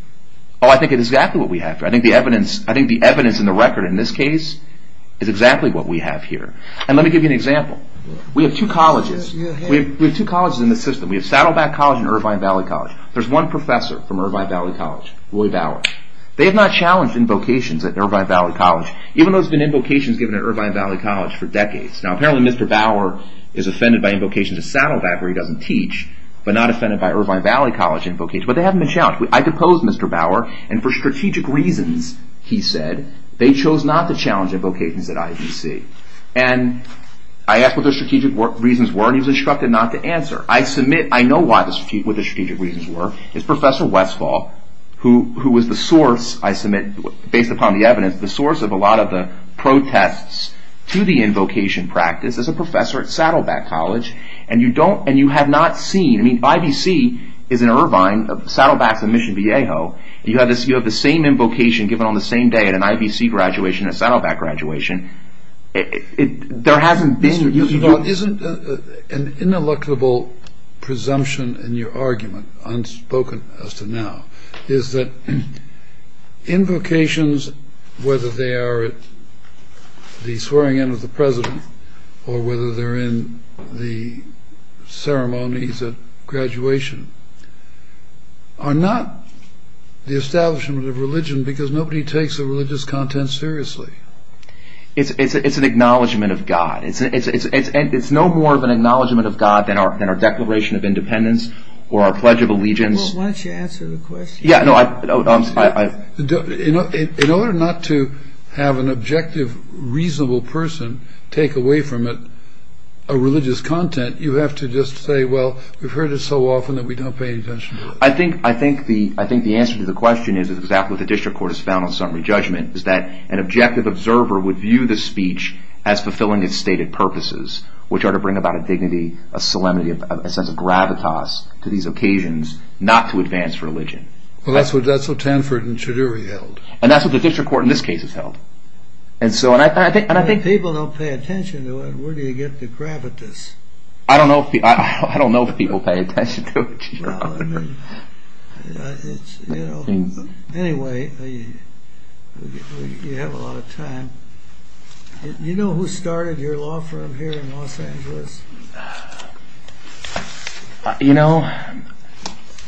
Oh, I think it's exactly what we have here. I think the evidence in the record in this case is exactly what we have here. And let me give you an example. We have two colleges. We have two colleges in the system. We have Saddleback College and Irvine Valley College. There's one professor from Irvine Valley College, Louis Bauer. They have not challenged invocations at Irvine Valley College, even though it's been invocations given at Irvine Valley College for decades. Now, apparently Mr. Bauer is offended by invocations at Saddleback where he doesn't teach, but not offended by Irvine Valley College invocations. But they haven't been challenged. I proposed Mr. Bauer, and for strategic reasons, he said, they chose not to challenge invocations at IBC. And I asked what their strategic reasons were, and he was instructed not to answer. I submit I know what the strategic reasons were. It's Professor Westphal, who was the source, I submit, based upon the evidence, the source of a lot of the protests to the invocation practice, is a professor at Saddleback College. And you don't—and you have not seen—I mean, IBC is in Irvine. Saddleback is in Mission Viejo. You have the same invocation given on the same day at an IBC graduation and Saddleback graduation. There hasn't been— Isn't an ineluctable presumption in your argument, unspoken as to now, is that invocations, whether they are at the swearing-in of the president or whether they're in the ceremonies at graduation, are not the establishment of religion because nobody takes the religious content seriously. It's an acknowledgment of God. It's no more of an acknowledgment of God than our Declaration of Independence or our Pledge of Allegiance. Well, why don't you answer the question? In order not to have an objective, reasonable person take away from it a religious content, you have to just say, well, we've heard it so often that we don't pay attention to it. I think the answer to the question is exactly what the district court has found on summary judgment, is that an objective observer would view the speech as fulfilling its stated purposes, which are to bring about a dignity, a solemnity, a sense of gravitas to these occasions, not to advance religion. Well, that's what Stanford and Choudhury held. And that's what the district court in this case has held. If people don't pay attention to it, where do you get the gravitas? I don't know if people pay attention to it. Anyway, you have a lot of time. Do you know who started your law firm here in Los Angeles? You know,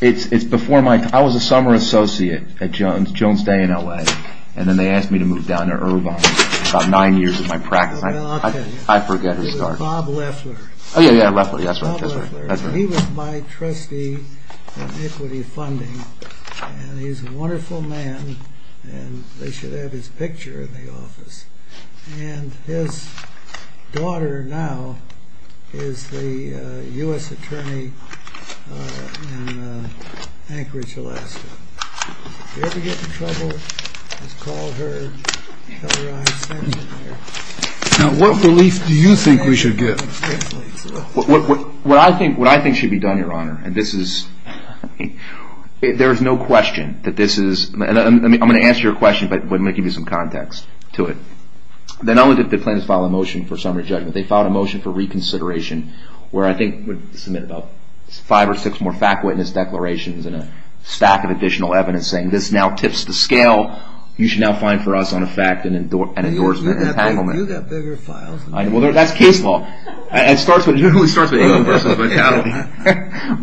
it's before my time. I was a summer associate at Jones Day in L.A., and then they asked me to move down to Irvine about nine years of my practice. Well, okay. I forget who started it. It was Bob Leffler. Oh, yeah, yeah, Leffler. That's right. He was my trustee in equity funding, and he's a wonderful man, and they should have his picture in the office. And his daughter now is a U.S. attorney in Anchorage, Alaska. If you ever get in trouble, just call her. Now, what belief do you think we should give? What I think should be done, Your Honor, and this is – there is no question that this is – and I'm going to answer your question, but I'm going to give you some context to it. Not only did the plaintiffs file a motion for summary judgment, they filed a motion for reconsideration where I think would submit five or six more fact-witness declarations and a stack of additional evidence saying, this now tips the scale. You should now file for us on a fact and endorsement entitlement. That's case law. It starts with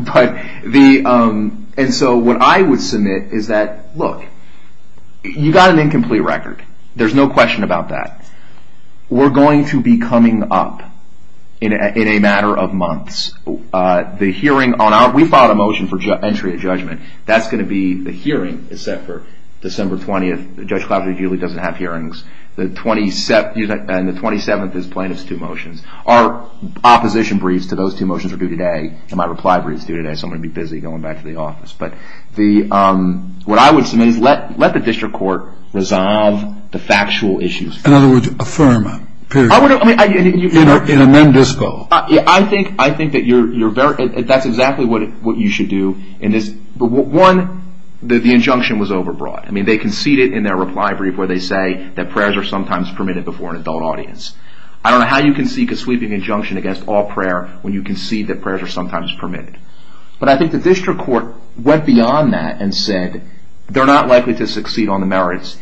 – But the – and so what I would submit is that, look, you got an incomplete record. There's no question about that. We're going to be coming up in a matter of months. The hearing on our – we filed a motion for entry of judgment. That's going to be – the hearing is set for December 20th. Judge Cloutier usually doesn't have hearings. And the 27th is plaintiff's two motions. Our opposition briefs to those two motions are due today. And my reply brief is due today, so I'm going to be busy going back to the office. But the – what I would submit, let the district court resolve the factual issues. In other words, affirm it. I would – I mean – And amend this bill. I think that you're very – that's exactly what you should do. One, the injunction was overbroad. I mean, they conceded in their reply brief where they say that prayers are sometimes permitted before an adult audience. I don't know how you can seek a sweeping injunction against all prayer when you concede that prayers are sometimes permitted. But I think the district court went beyond that and said they're not likely to succeed on the merits.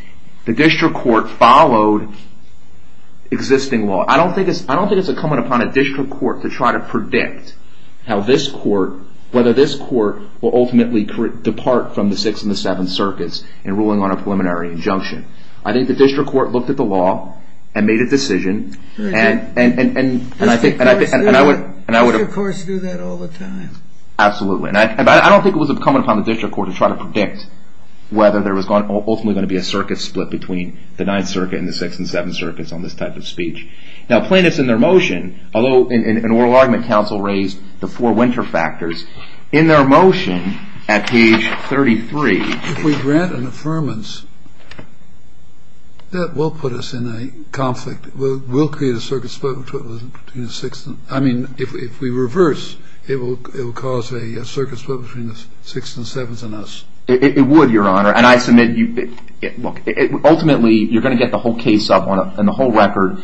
The district court followed existing law. I don't think it's incumbent upon a district court to try to predict how this court – from the Sixth and the Seventh Circuits in ruling on a preliminary injunction. I think the district court looked at the law and made a decision. And I think – We, of course, do that all the time. Absolutely. And I don't think it was incumbent upon the district court to try to predict whether there was ultimately going to be a circuit split between the Ninth Circuit and the Sixth and Seventh Circuits on this type of speech. Now, plaintiffs in their motion, although an oral argument counsel raised the four winter factors, in their motion at page 33. If we grant an affirmance, that will put us in a conflict. It will create a circuit split between the Sixth and – I mean, if we reverse, it will cause a circuit split between the Sixth and Seventh and us. It would, Your Honor. And I submit – Look, ultimately, you're going to get the whole case up and the whole record.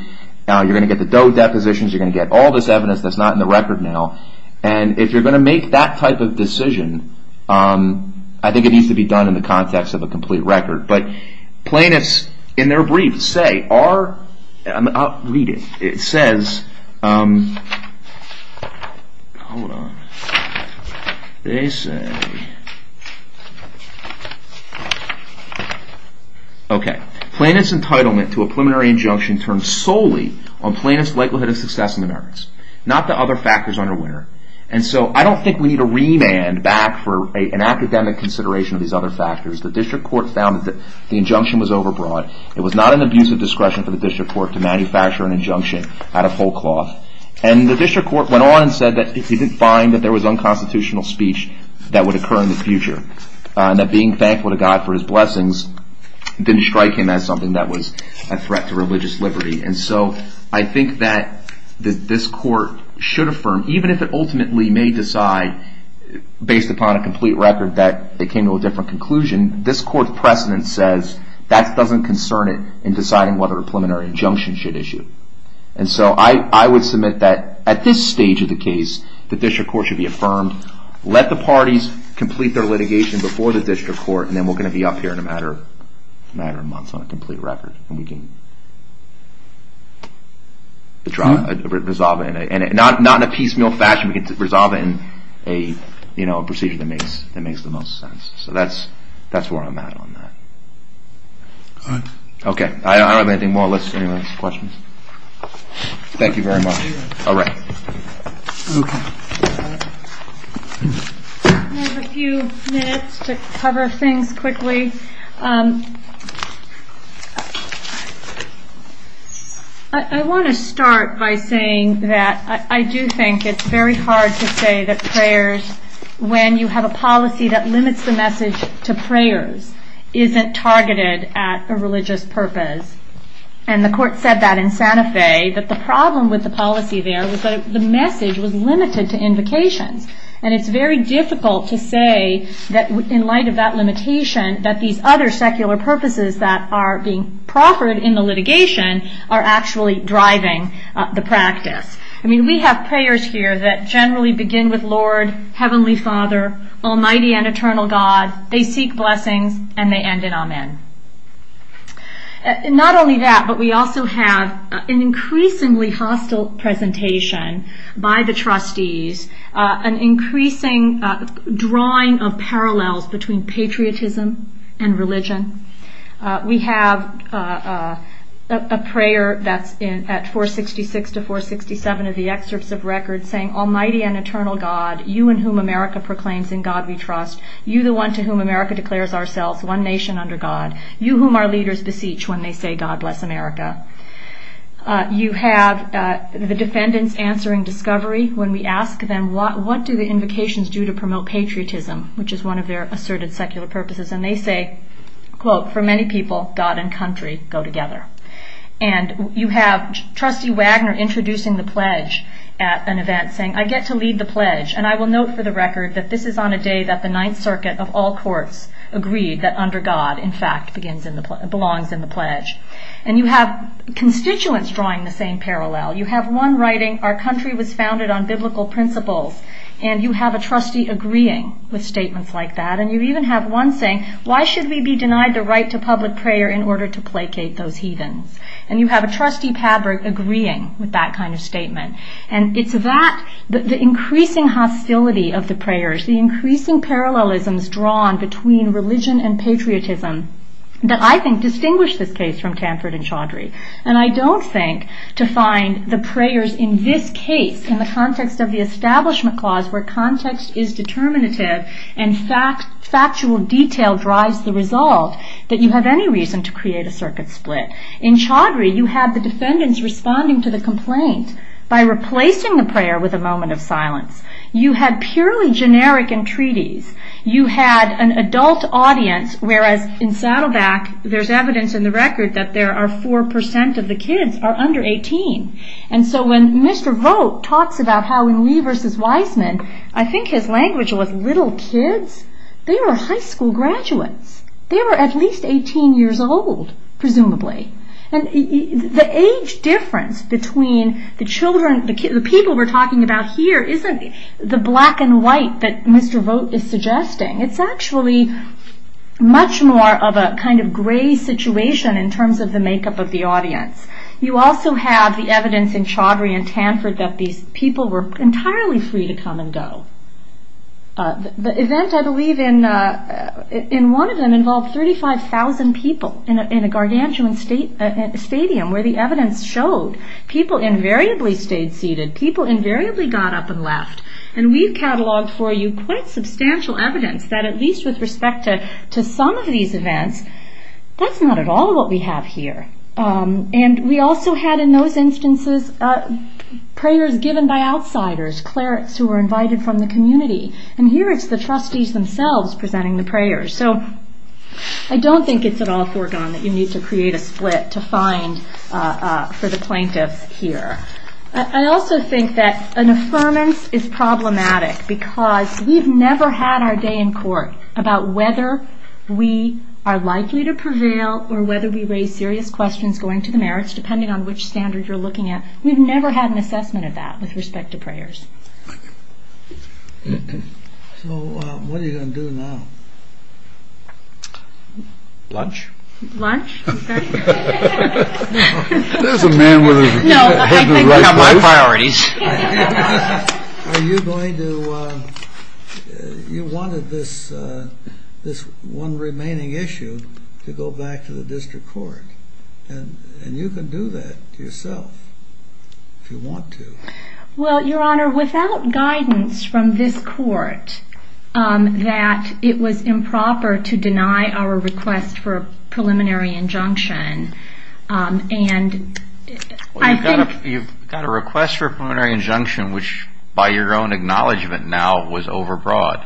You're going to get the Doe depositions. You're going to get all this evidence that's not in the record now. And if you're going to make that type of decision, I think it needs to be done in the context of a complete record. But plaintiffs, in their brief, say, are – I'll read it. It says – hold on. They say – Okay. Plaintiff's entitlement to a preliminary injunction turns solely on plaintiff's likelihood of success in the merits, not the other factors under where. And so I don't think we need a remand back for an academic consideration of these other factors. The district court found that the injunction was overbroad. It was not an abuse of discretion for the district court to manufacture an injunction out of whole cloth. And the district court went on and said that it didn't find that there was unconstitutional speech that would occur in the future, and that being thankful to God for his blessings didn't strike him as something that was a threat to religious liberty. And so I think that this court should affirm, even if it ultimately may decide, based upon a complete record, that it came to a different conclusion, this court's precedent says that doesn't concern it in deciding whether a preliminary injunction should issue. And so I would submit that at this stage of the case, the district court should be affirmed. Let the parties complete their litigation before the district court, and then we're going to be up here in a matter of months on a complete record, and we can try to resolve it, and not in a piecemeal fashion, we can resolve it in a procedure that makes the most sense. So that's where I'm at on that. Okay, I don't have anything more. Any more questions? Thank you very much. All right. Okay. I have a few minutes to cover things quickly. I want to start by saying that I do think it's very hard to say that prayers, when you have a policy that limits the message to prayers, isn't targeted at a religious purpose. And the court said that in Santa Fe, that the problem with the policy there was that the message was limited to invocation. And it's very difficult to say that in light of that limitation, that these other secular purposes that are being proffered in the litigation are actually driving the practice. I mean, we have prayers here that generally begin with Lord, Heavenly Father, Almighty and Eternal God, and they end in Amen. Not only that, but we also have an increasingly hostile presentation by the trustees, an increasing drawing of parallels between patriotism and religion. We have a prayer that's at 466 to 467 of the excerpts of records saying, You and whom America proclaims in God we trust. You, the one to whom America declares ourselves one nation under God. You, whom our leaders beseech when they say, God bless America. You have the defendants answering discovery when we ask them, what do the invocations do to promote patriotism, which is one of their asserted secular purposes. And they say, quote, for many people, God and country go together. And you have Trustee Wagner introducing the pledge at an event saying, I get to lead the pledge, and I will note for the record that this is on a day that the Ninth Circuit of all courts agreed that under God, in fact, belongs in the pledge. And you have constituents drawing the same parallel. You have one writing, our country was founded on biblical principles, and you have a trustee agreeing with statements like that. And you even have one saying, why should we be denied the right to public prayer in order to placate those heathens? And you have a trustee, Padraig, agreeing with that kind of statement. And it's that, the increasing hostility of the prayers, the increasing parallelisms drawn between religion and patriotism, that I think distinguish this case from Canford and Chaudhry. And I don't think to find the prayers in this case, in the context of the Establishment Clause, where context is determinative and factual detail drives the result, that you have any reason to create a circuit split. In Chaudhry, you have the defendants responding to the complaint by replacing the prayer with a moment of silence. You have purely generic entreaties. You have an adult audience, whereas in Saddleback, there's evidence in the record that there are 4% of the kids are under 18. And so when Mr. Vogt talks about how he knew versus Wiseman, I think his language was, little kids? They were high school graduates. They were at least 18 years old, presumably. And the age difference between the children, the people we're talking about here, isn't the black and white that Mr. Vogt is suggesting. It's actually much more of a kind of gray situation in terms of the makeup of the audience. You also have the evidence in Chaudhry and Tanford that these people were entirely free to come and go. The event, I believe, in one of them involved 35,000 people in a gargantuan stadium where the evidence showed. People invariably stayed seated. People invariably got up and left. And we've cataloged for you quite substantial evidence that at least with respect to some of these events, that's not at all what we have here. And we also had in those instances prayers given by outsiders, clerics who were invited from the community. And here it's the trustees themselves presenting the prayers. So I don't think it's at all foregone that you need to create a split to find for the plaintiff here. I also think that an affirmance is problematic because we've never had our day in court about whether we are likely to prevail or whether we raise serious questions going to the marriage, depending on which standards you're looking at. We've never had an assessment of that with respect to prayers. So what are you going to do now? Lunch? There's a man with a head in the right place. That's one of my priorities. You wanted this one remaining issue to go back to the district court. And you can do that yourself if you want to. Well, Your Honor, without guidance from this court, that it was improper to deny our request for a preliminary injunction. Well, you've got a request for a preliminary injunction, which by your own acknowledgment now was overbroad.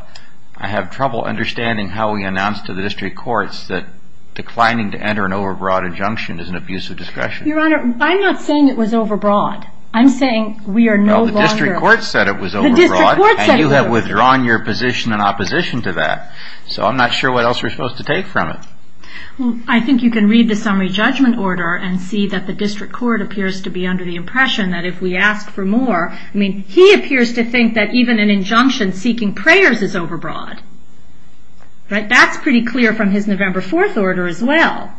I have trouble understanding how we announced to the district courts that declining to enter an overbroad injunction is an abuse of discretion. Your Honor, I'm not saying it was overbroad. I'm saying we are no longer. Well, the district court said it was overbroad. And you have withdrawn your position in opposition to that. So I'm not sure what else we're supposed to take from it. I think you can read the summary judgment order and see that the district court appears to be under the impression that if we ask for more, he appears to think that even an injunction seeking prayers is overbroad. That's pretty clear from his November 4th order as well.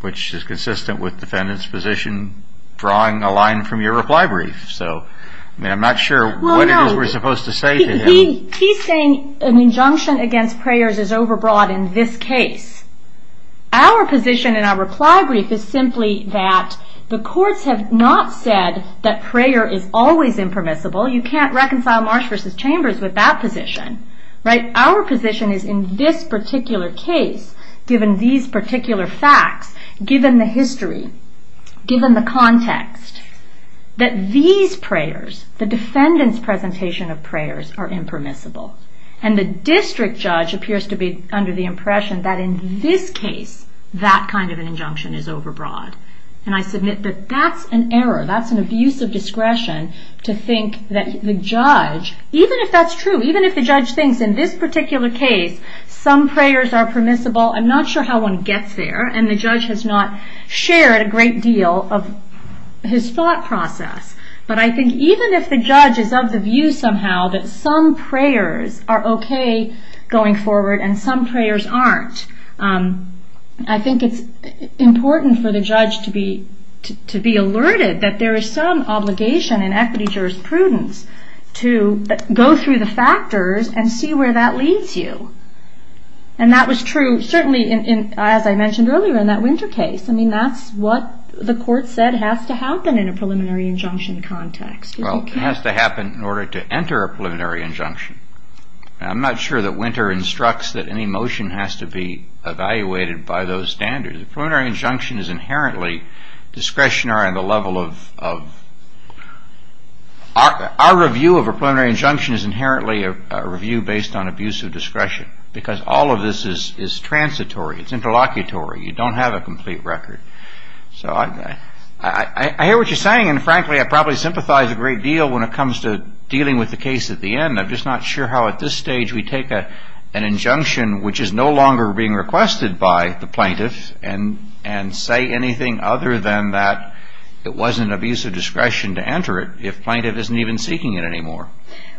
Which is consistent with the defendant's position drawing a line from your reply brief. I'm not sure what else we're supposed to say to him. He's saying an injunction against prayers is overbroad in this case. Our position in our reply brief is simply that the courts have not said that prayer is always impermissible. You can't reconcile Marsh v. Chambers with that position. Our position is in this particular case, given these particular facts, given the history, given the context, that these prayers, the defendant's presentation of prayers, are impermissible. And the district judge appears to be under the impression that in this case, that kind of injunction is overbroad. And I submit that that's an error. That's an abuse of discretion to think that the judge, even if that's true, even if the judge thinks in this particular case, some prayers are permissible, I'm not sure how one gets there. And the judge has not shared a great deal of his thought process. But I think even if the judge is of the view somehow that some prayers are okay going forward and some prayers aren't, I think it's important for the judge to be alerted that there is some obligation in equity jurisprudence to go through the factors and see where that leads you. And that was true, certainly, as I mentioned earlier in that Winter case. I mean, that's what the court said has to happen in a preliminary injunction context. Well, it has to happen in order to enter a preliminary injunction. I'm not sure that Winter instructs that any motion has to be evaluated by those standards. A preliminary injunction is inherently discretionary on the level of... Our review of a preliminary injunction is inherently a review based on abuse of discretion because all of this is transitory. It's interlocutory. You don't have a complete record. So I hear what you're saying and, frankly, I probably sympathize a great deal when it comes to dealing with the case at the end. I'm just not sure how at this stage we take an injunction which is no longer being requested by the plaintiff and say anything other than that it wasn't abuse of discretion to enter it if plaintiff isn't even seeking it anymore.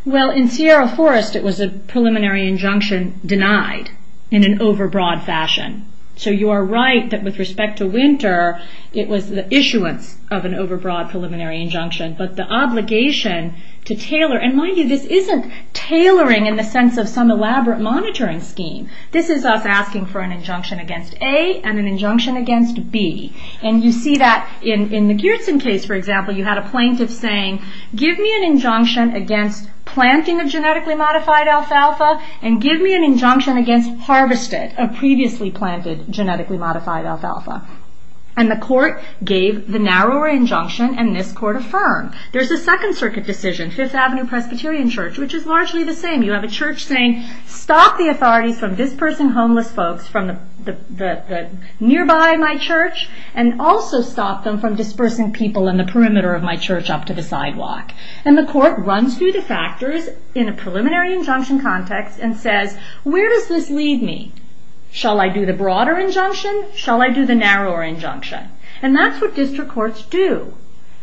Well, in Sierra Forest, it was a preliminary injunction denied in an overbroad fashion. So you are right that with respect to Winter, it was the issuance of an overbroad preliminary injunction. But the obligation to tailor... And mind you, this isn't tailoring in the sense of some elaborate monitoring scheme. This is us asking for an injunction against A and an injunction against B. And you see that in the Gearson case, for example, you had a plaintiff saying, give me an injunction against planting a genetically modified alfalfa and give me an injunction against harvesting a previously planted genetically modified alfalfa. And the court gave the narrower injunction and this court affirmed. There's a Second Circuit decision, Fifth Avenue Presbyterian Church, which is largely the same. You have a church saying, stop the authority from dispersing homeless folks from nearby my church and also stop them from dispersing people in the perimeter of my church up to the sidewalk. And the court runs through the factors in a preliminary injunction context and says, where does this leave me? Shall I do the broader injunction? Shall I do the narrower injunction? And that's what district courts do.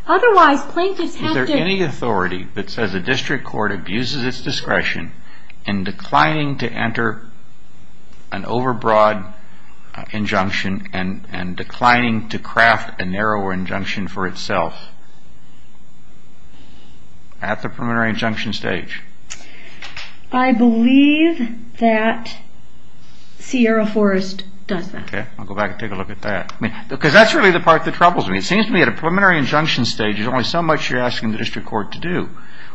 Otherwise, plaintiff has to... ...in declining to enter an overbroad injunction and declining to craft a narrower injunction for itself at the preliminary injunction stage. I believe that Sierra Forrest doesn't. Okay. I'll go back and take a look at that. Because that's really the part that troubles me. It seems to me that a preliminary injunction stage is only so much you're asking the district court to do.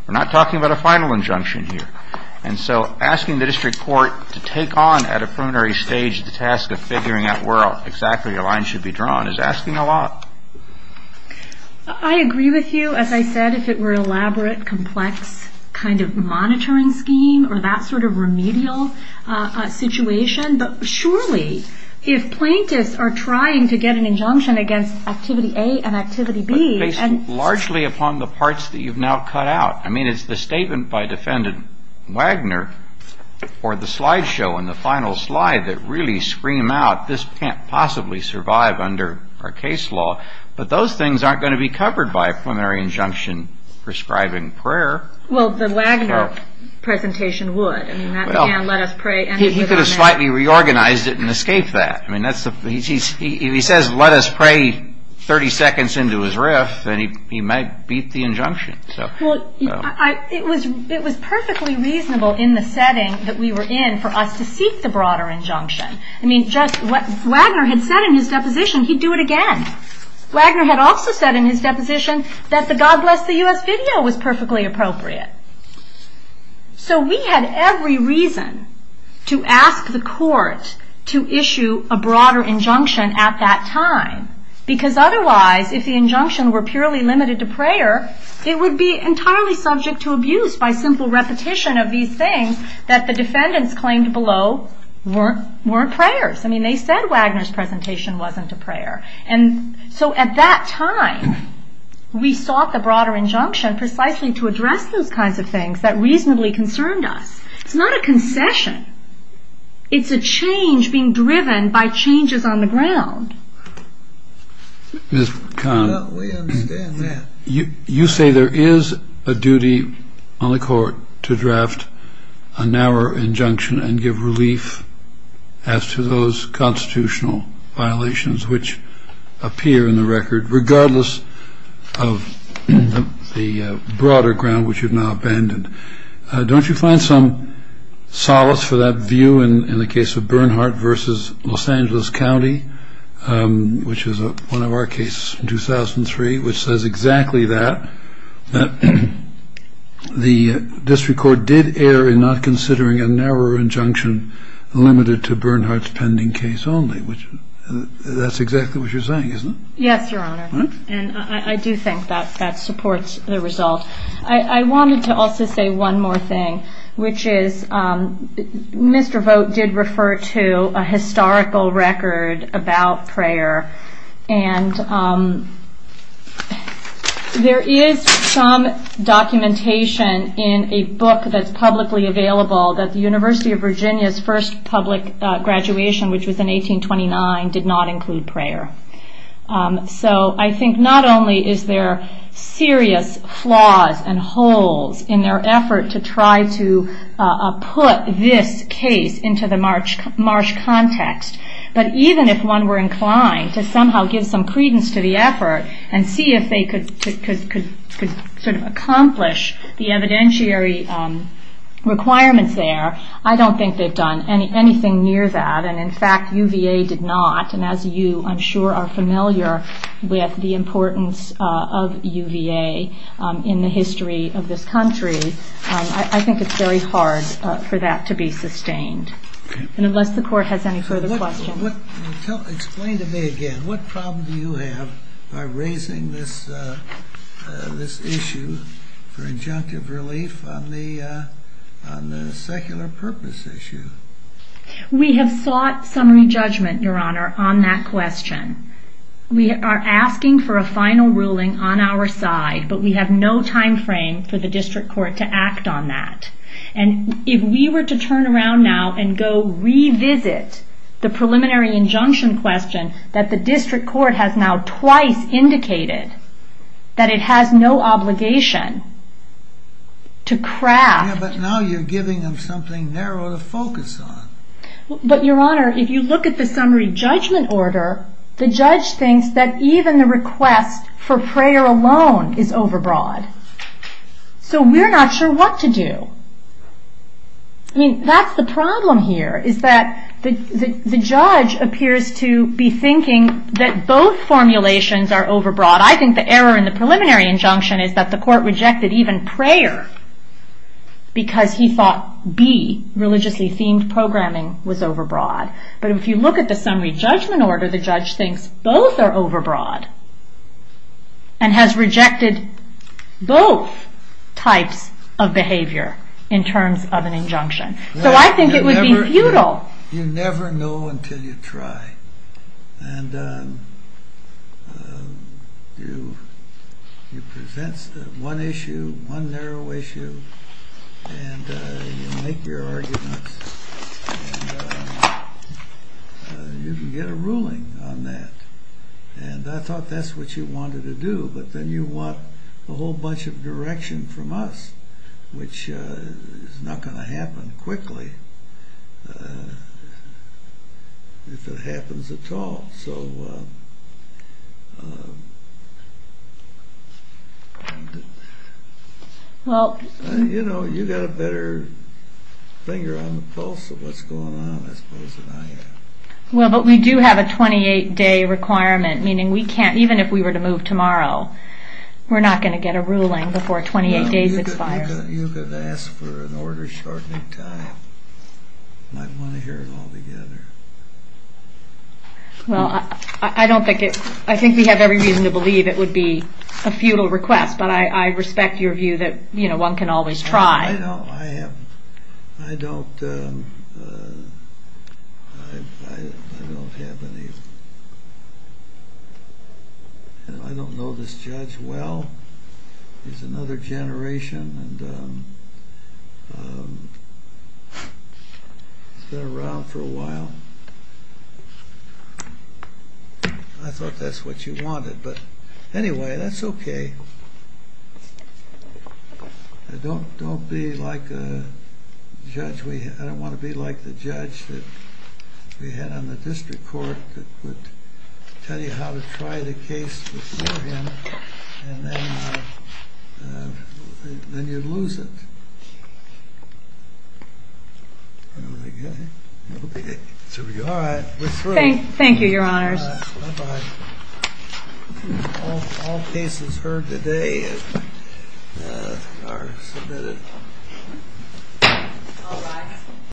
We're not talking about a final injunction here. And so asking the district court to take on at a preliminary stage the task of figuring out where exactly a line should be drawn is asking a lot. I agree with you. As I said, if it were an elaborate, complex kind of monitoring scheme or that sort of remedial situation. But surely, if plaintiffs are trying to get an injunction against Activity A and Activity B... ...it's largely upon the parts that you've now cut out. I mean, it's the statement by Defendant Wagner or the slideshow in the final slide that really scream out, this can't possibly survive under our case law. But those things aren't going to be covered by a preliminary injunction prescribing prayer. Well, the Wagner presentation would. He could have slightly reorganized it and escaped that. If he says, let us pray 30 seconds into his riff, then he might beat the injunction. Well, it was perfectly reasonable in the setting that we were in for us to seek the broader injunction. I mean, just what Wagner had said in his deposition, he'd do it again. Wagner had also said in his deposition that the God Bless the U.S. video was perfectly appropriate. So we had every reason to ask the court to issue a broader injunction at that time. Because otherwise, if the injunction were purely limited to prayer, it would be entirely subject to abuse by simple repetition of these things that the defendants claimed below weren't prayers. I mean, they said Wagner's presentation wasn't a prayer. And so at that time, we sought the broader injunction precisely to address those kinds of things that reasonably concerned us. It's not a concession. It's a change being driven by changes on the ground. Mr. Kahn, you say there is a duty on the court to draft a narrower injunction and give relief as to those constitutional violations which appear in the record, regardless of the broader ground which you've now abandoned. Don't you find some solace for that view in the case of Bernhardt v. Los Angeles County, which is one of our cases from 2003, which says exactly that, that the district court did err in not considering a narrower injunction limited to Bernhardt's pending case only? That's exactly what you're saying, isn't it? Yes, Your Honor. And I do think that that supports the result. I wanted to also say one more thing, which is Mr. Vogt did refer to a historical record about prayer. And there is some documentation in a book that's publicly available that the University of Virginia's first public graduation, which was in 1829, did not include prayer. So I think not only is there serious flaws and holes in their effort to try to put this case into the Marsh context, but even if one were inclined to somehow give some credence to the effort and see if they could sort of accomplish the evidentiary requirements there, I don't think they've done anything near that. And in fact, UVA did not. And as you, I'm sure, are familiar with the importance of UVA in the history of this country, I think it's very hard for that to be sustained. Unless the court has any further questions. Explain to me again, what problem do you have by raising this issue for injunctive relief on the secular purpose issue? We have sought some re-judgment, Your Honor, on that question. We are asking for a final ruling on our side, but we have no time frame for the district court to act on that. And if we were to turn around now and go revisit the preliminary injunction question that the district court has now twice indicated that it has no obligation to craft Yeah, but now you're giving them something narrow to focus on. But, Your Honor, if you look at the summary judgment order, the judge thinks that even the request for prayer alone is overbroad. So we're not sure what to do. I mean, that's the problem here, is that the judge appears to be thinking that both formulations are overbroad. I think the error in the preliminary injunction is that the court rejected even prayer because he thought B, religiously themed programming, was overbroad. But if you look at the summary judgment order, the judge thinks both are overbroad and has rejected both types of behavior in terms of an injunction. So I think it would be futile. You never know until you try, and you present one issue, one narrow issue, and you make your arguments, and you can get a ruling on that. And I thought that's what you wanted to do, but then you want a whole bunch of direction from us, which is not going to happen quickly, if it happens at all. You know, you've got a better finger on the pulse of what's going on, I suppose, Your Honor. Well, but we do have a 28-day requirement, meaning we can't, even if we were to move tomorrow, we're not going to get a ruling before 28 days expire. You could ask for an order shortly, and I want to hear it all together. Well, I think we have every reason to believe it would be a futile request, but I respect your view that one can always try. I don't know this judge well. He's another generation, and he's been around for a while. I thought that's what you wanted, but anyway, that's okay. Don't be like a judge. I don't want to be like the judge that we had on the district court that would tell you how to try the case, and then you lose it. All right. Thank you, Your Honors. Bye-bye. All cases heard today are submitted.